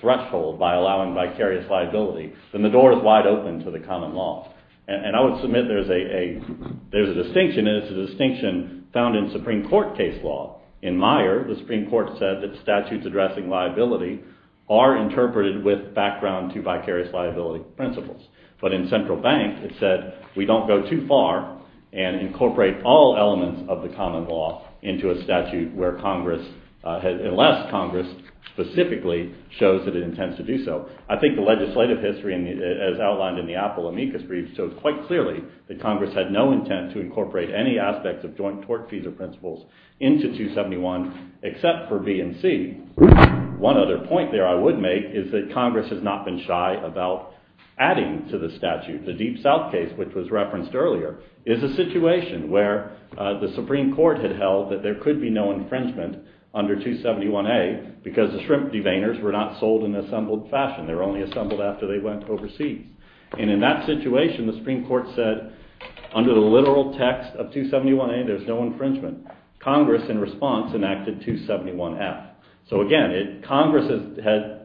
threshold by allowing vicarious liability, then the door is wide open to the common law. And I would submit there's a distinction, and it's a distinction found in Supreme Court case law. In Meyer, the Supreme Court said that statutes addressing liability are interpreted with background to vicarious liability principles. But in Central Bank, it said we don't go too far and incorporate all elements of the common law into a statute where Congress, unless Congress specifically shows that it intends to do so. I think the legislative history, as outlined in the Apple amicus brief, shows quite clearly that Congress had no intent to incorporate any aspect of joint tort fees or principles into 271, except for B and C. One other point there I would make is that Congress has not been shy about adding to the statute. The Deep South case, which was referenced earlier, is a situation where the Supreme Court had held that there could be no infringement under 271A because the shrimp deveiners were not sold in assembled fashion. They were only assembled after they went overseas. And in that situation, the Supreme Court said under the literal text of 271A, there's no infringement. Congress, in response, enacted 271F. So again, Congress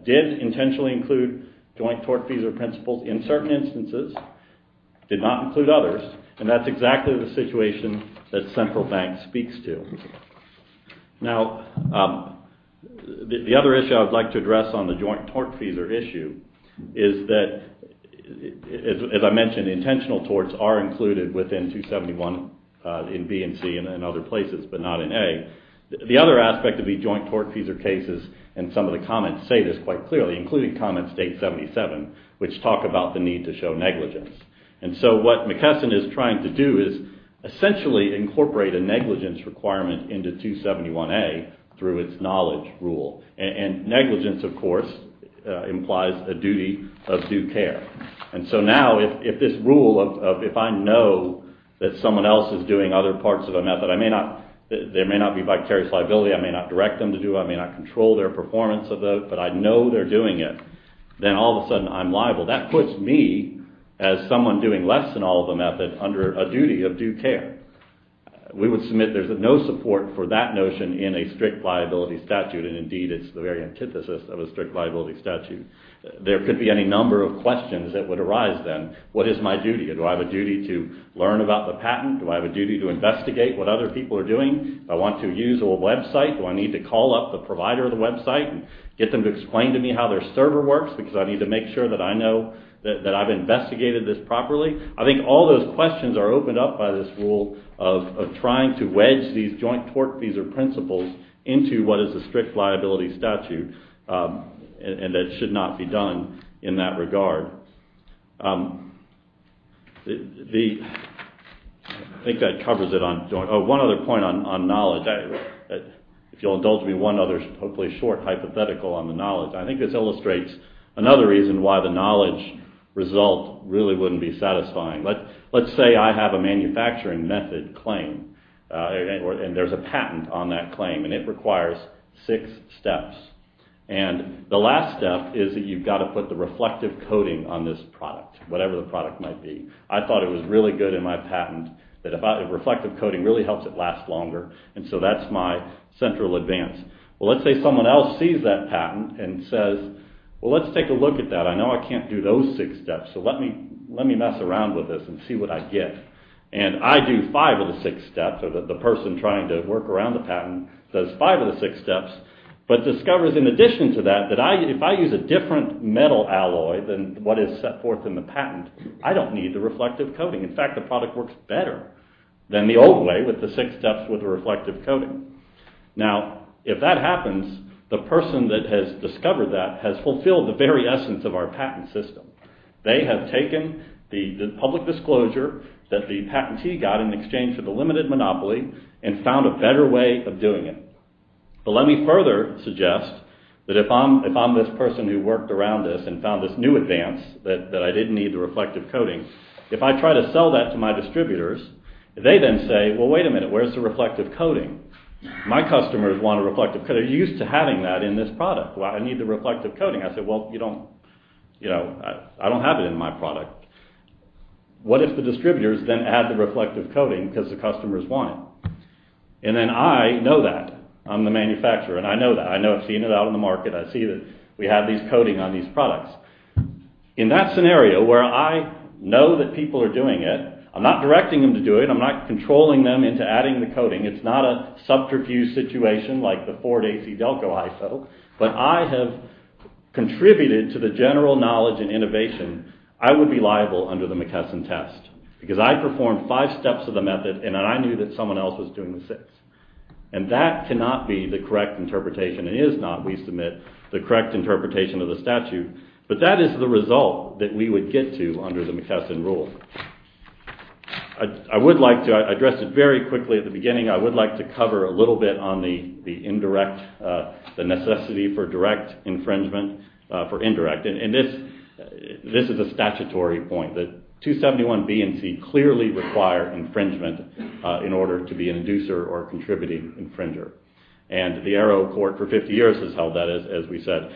did intentionally include joint tort fees or principles in certain instances, did not include others, and that's exactly the situation that central bank speaks to. Now, the other issue I would like to address on the joint tort fees or issue is that, as I mentioned, intentional torts are included within 271 in B and C and other places, but not in A. The other aspect of the joint tort fees or cases, and some of the comments say this quite clearly, including comment state 77, which talk about the need to show negligence. And so what McKesson is trying to do is essentially incorporate a negligence requirement into 271A through its knowledge rule. And negligence, of course, implies a duty of due care. And so now, if this rule of if I know that someone else is doing other parts of a method, there may not be vicarious liability, I may not direct them to do it, I may not control their performance of it, but I know they're doing it, then all of a sudden I'm liable. That puts me, as someone doing less than all of the method, under a duty of due care. We would submit there's no support for that notion in a strict liability statute, and indeed it's the very antithesis of a strict liability statute. There could be any number of questions that would arise then. What is my duty? Do I have a duty to learn about the patent? Do I have a duty to investigate what other people are doing? Do I want to use a website? Do I need to call up the provider of the website and get them to explain to me how their server works because I need to make sure that I know that I've investigated this properly? I think all those questions are opened up by this rule of trying to wedge these joint tortfeasor principles into what is a strict liability statute and that it should not be done in that regard. I think that covers it. One other point on knowledge. If you'll indulge me, one other hopefully short hypothetical on the knowledge. I think this illustrates another reason why the knowledge result really wouldn't be satisfying. Let's say I have a manufacturing method claim and there's a patent on that claim and the last step is that you've got to put the reflective coating on the patent. I thought it was really good in my patent that reflective coating really helps it last longer and so that's my central advance. Let's say someone else sees that patent and says, let's take a look at that. I know I can't do those six steps so let me mess around with this and see what I get. I do five of the six steps or the person trying to work around the patent does five of the six steps but discovers in addition to that that if I use a different metal alloy than what is set forth in the patent I don't need the reflective coating. In fact, the product works better than the old way with the six steps with the reflective coating. Now, if that happens, the person that has discovered that has fulfilled the very essence of our patent system. They have taken the public disclosure that the patentee got in exchange for the limited monopoly and found a better way of doing it. But let me further suggest that if I'm this person who worked around this and found this new advance that I didn't need the reflective coating if I try to sell that to my distributors, they then say well wait a minute, where's the reflective coating? My customers want a reflective coating. Are you used to having that in this product? I need the reflective coating. I say, well, you don't you know, I don't have it in my product. What if the distributors then add the reflective coating because the customers want it? And then I know that. I'm the manufacturer and I know that. I know I've seen it out on the market. I see that we have these coatings on these products. In that scenario where I know that people are doing it I'm not directing them to do it. I'm not controlling them into adding the coating. It's not a subterfuge situation like the Ford AC Delco ISO, but I have contributed to the general knowledge and innovation I would be liable under the McKesson test because I performed five steps of the method and I knew that someone else was doing the six. And that cannot be the correct interpretation. It is not, we submit, the correct interpretation of the statute. But that is the result that we would get to under the McKesson rules. I would like to address it very quickly at the beginning. I would like to cover a little bit on the indirect necessity for direct infringement for indirect and this is a statutory point that 271 B and C clearly require infringement in order to be an infringer. And the Arrow Court for 50 years has held that as we said.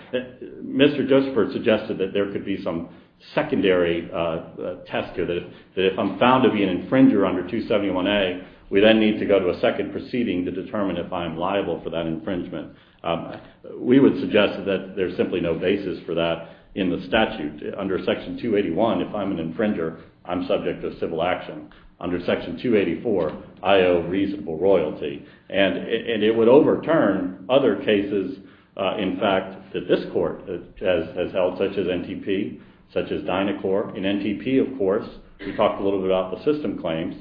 Mr. Josephert suggested that there could be some secondary test that if I'm found to be an infringer under 271 A, we then need to go to a second proceeding to determine if I'm liable for that infringement. We would suggest that there's simply no basis for that in the statute. Under Section 281, if I'm an infringer I'm subject to civil action. Under Section 284, I owe a reasonable royalty and it would overturn other cases in fact that this court has held such as NTP, such as Dynacorp. In NTP of course, we talked a little bit about the system claims.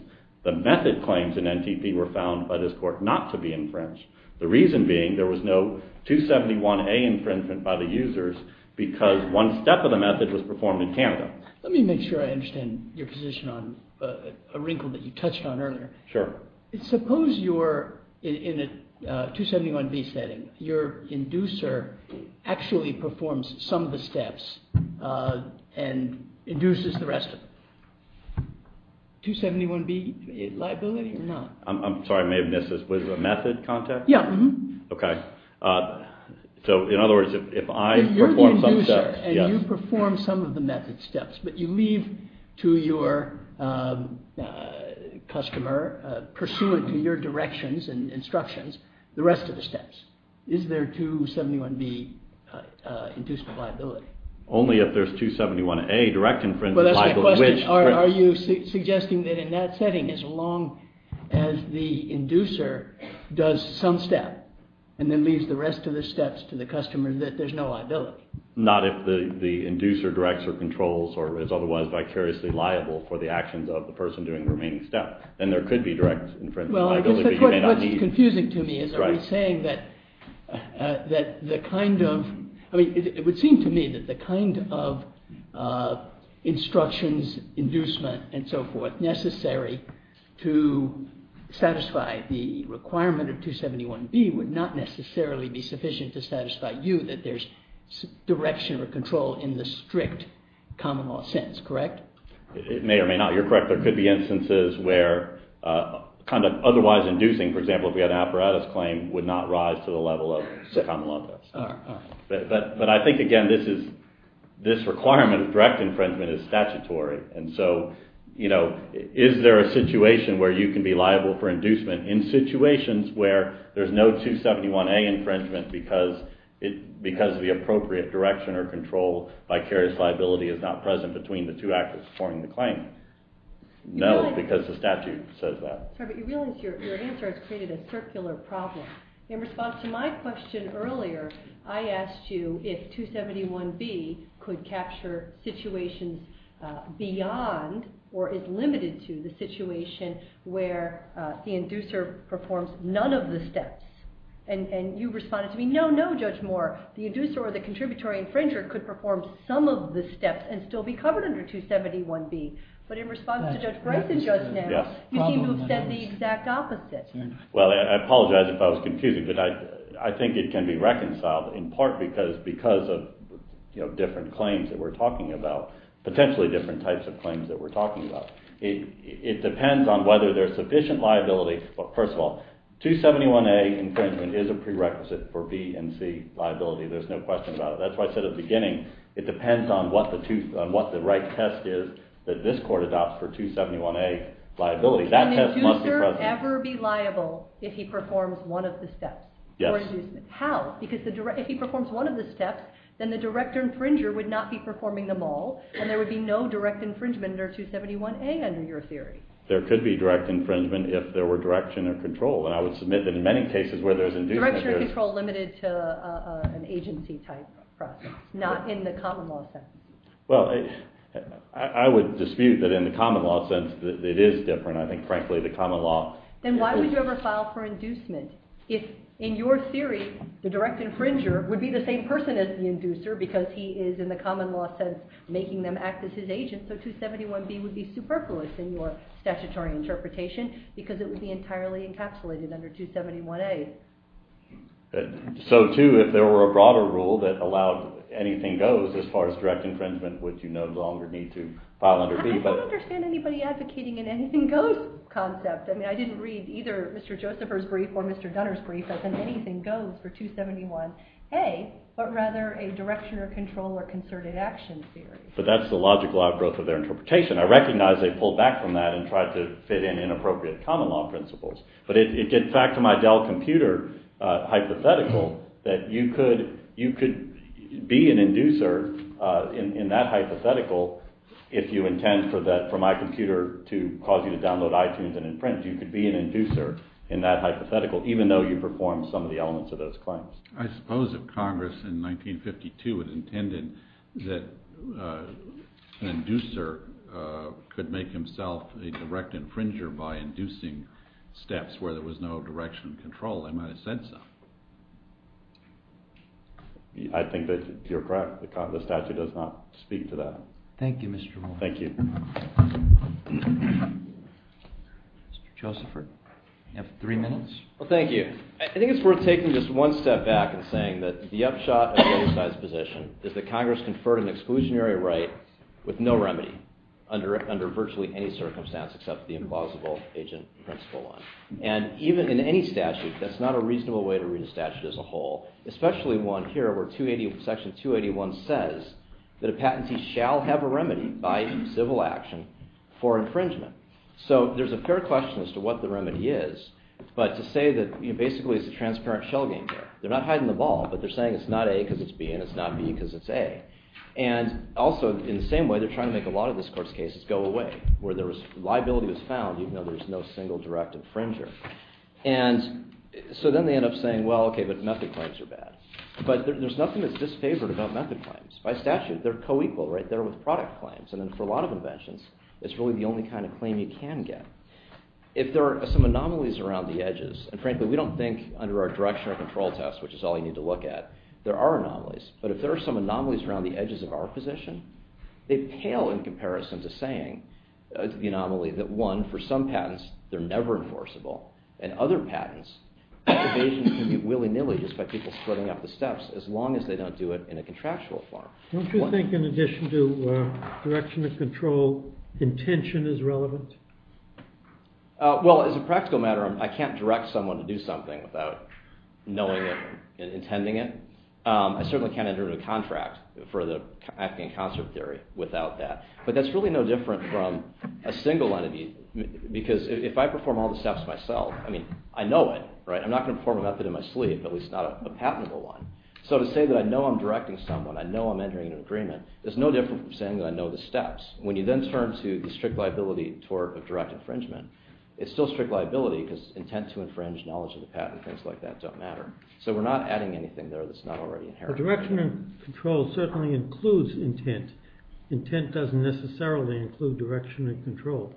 The method claims in NTP were found by this court not to be infringed. The reason being there was no 271 A infringement by the users because one step of the method was performed in Canada. Let me make sure I understand your position on a wrinkle that you touched on earlier. Suppose you're in a 271 B setting. Your inducer actually performs some of the steps and induces the rest of them. 271 B liability or not? I'm sorry, I may have missed this. Was it a method contact? Yeah. Okay. So in other words, if I perform some steps and you perform some of the method steps but you leave to your customer, pursuant to your directions and instructions, the rest of the steps. Is there 271 B induced liability? Only if there's 271 A direct infringement liability. Are you suggesting that in that setting as long as the inducer does some step and then leaves the rest of the steps to the customer that there's no liability? Not if the inducer directs or controls or is otherwise vicariously liable for the actions of the person doing the remaining steps. Then there could be direct infringement liability but you may not need. What's confusing to me is are we saying that the kind of, I mean it would seem to me that the kind of instructions inducement and so forth necessary to satisfy the requirement of 271 B would not necessarily be sufficient to satisfy you that there's direction or control in the strict common law sense, correct? It may or may not. You're correct. There could be instances where kind of otherwise inducing, for example, if we had an apparatus claim would not rise to the level of the common law. But I think again this is this requirement of direct infringement is statutory and so is there a situation where you can be liable for inducement in situations where there's no 271 A infringement because the appropriate direction or control vicarious liability is not present between the two actors performing the claim? No, because the statute says that. Your answer has created a circular problem. In response to my question earlier, I asked you if 271 B could capture situations beyond or is limited to the situation where the inducer performs none of the steps. And you responded to me, no, no, Judge Richard could perform some of the steps and still be covered under 271 B. But in response to Judge Bryson just now, you seem to have said the exact opposite. Well, I apologize if I was confusing, but I think it can be reconciled in part because of different claims that we're talking about, potentially different types of claims that we're talking about. It depends on whether there's sufficient liability, but first of all 271 A infringement is a prerequisite for B and C liability, there's no question about it. That's why I said at the beginning, it depends on what the right test is that this court adopts for 271 A liability. That test must be present. Would an inducer ever be liable if he performs one of the steps? Yes. How? Because if he performs one of the steps, then the direct infringer would not be performing them all and there would be no direct infringement under 271 A under your theory. There could be direct infringement if there were direction or control and I would submit that in many cases where there's control limited to an agency type process, not in the common law sense. Well, I would dispute that in the common law sense that it is different. I think frankly the common law... Then why would you ever file for inducement if in your theory the direct infringer would be the same person as the inducer because he is in the common law sense making them act as his agent so 271 B would be superfluous in your statutory interpretation because it would be entirely encapsulated under 271 A. So too, if there were a broader rule that allowed anything goes as far as direct infringement which you no longer need to file under B. I don't understand anybody advocating an anything goes concept. I mean, I didn't read either Mr. Josephers' brief or Mr. Dunner's brief as an anything goes for 271 A, but rather a direction or control or concerted action theory. But that's the logical outgrowth of their interpretation. I recognize they pulled back from that and tried to fit in inappropriate common law principles, but it did factor my Dell computer hypothetical that you could be an inducer in that hypothetical if you intend for that for my computer to cause you to download iTunes and imprint, you could be an inducer in that hypothetical even though you performed some of the elements of those claims. I suppose if Congress in 1952 had intended that an inducer could make himself a direct infringer by inducing steps where there was no direction and control, they might have said so. I think that you're correct. The statute does not speak to that. Thank you, Mr. Moore. Thank you. Mr. Josephers, you have three minutes. Well, thank you. I think it's worth taking just one step back and saying that the upshot of the other side's position is that Congress conferred an exclusionary right with no remedy under virtually any circumstance except the implausible agent principle one. And even in any statute, that's not a reasonable way to read a statute as a whole, especially one here where Section 281 says that a patentee shall have a remedy by civil action for infringement. So, there's a fair question as to what the remedy is, but to say that basically it's a transparent shell game here. They're not hiding the ball, but they're saying it's not A because it's B and it's not B because it's A. And also, in the same way, they're trying to make a lot of this Court's cases go away where liability was found even though there's no single direct infringer. And so then they end up saying, well, okay, but method claims are bad. But there's nothing that's disfavored about method claims. By statute, they're co-equal, right? They're with product claims. And then for a lot of inventions, it's really the only kind of claim you can get. If there are some anomalies around the edges, and frankly we don't think under our direction or control test, which is all you need to look at, there are some anomalies around the edges of our position, they pale in comparison to saying, the anomaly that one, for some patents, they're never enforceable. And other patents, evasions can be willy-nilly just by people splitting up the steps as long as they don't do it in a contractual form. Don't you think in addition to direction and control, intention is relevant? Well, as a practical matter, I can't direct someone to do something without knowing it and intending it. I certainly can't enter into a contract for the Afghan concert theory without that. But that's really no different from a single entity because if I perform all the steps myself, I mean, I know it, right? I'm not going to perform a method in my sleep, at least not a patentable one. So to say that I know I'm directing someone, I know I'm entering an agreement, there's no difference from saying that I know the steps. When you then turn to the strict liability tort of direct infringement, it's still strict liability because intent to infringe, knowledge of the patent, things like that don't matter. So we're not adding anything there that's not already inherent. But direction and control certainly includes intent. Intent doesn't necessarily include direction and control.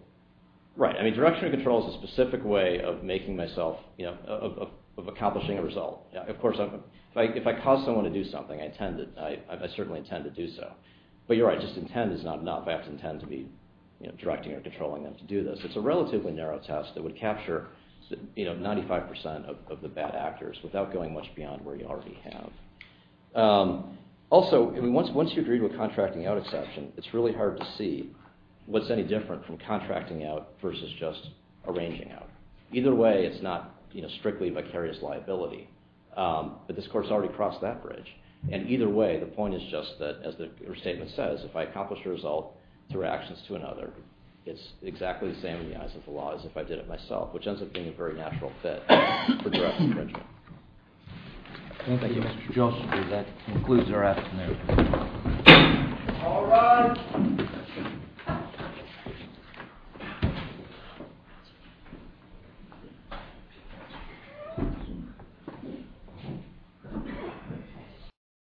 Right. I mean, direction and control is a specific way of making myself, you know, of accomplishing a result. If I cause someone to do something, I certainly intend to do so. But you're right, just intent is not enough. I have to intend to be directing or controlling them to do this. It's a relatively narrow test that would capture 95% of the bad actors without going much beyond where you already have. Also, I mean, once you agree to a contracting out exception, it's really hard to see what's any different from contracting out versus just arranging out. Either way, it's not strictly vicarious liability. But this court's already crossed that bridge. And either way, the point is just that, as her statement says, if I accomplish a result through actions to another, it's exactly the same in the eyes of the law as if I did it myself, which ends up being a very natural fit for direct infringement. Thank you, Mr. Joshua. That concludes our afternoon. All rise.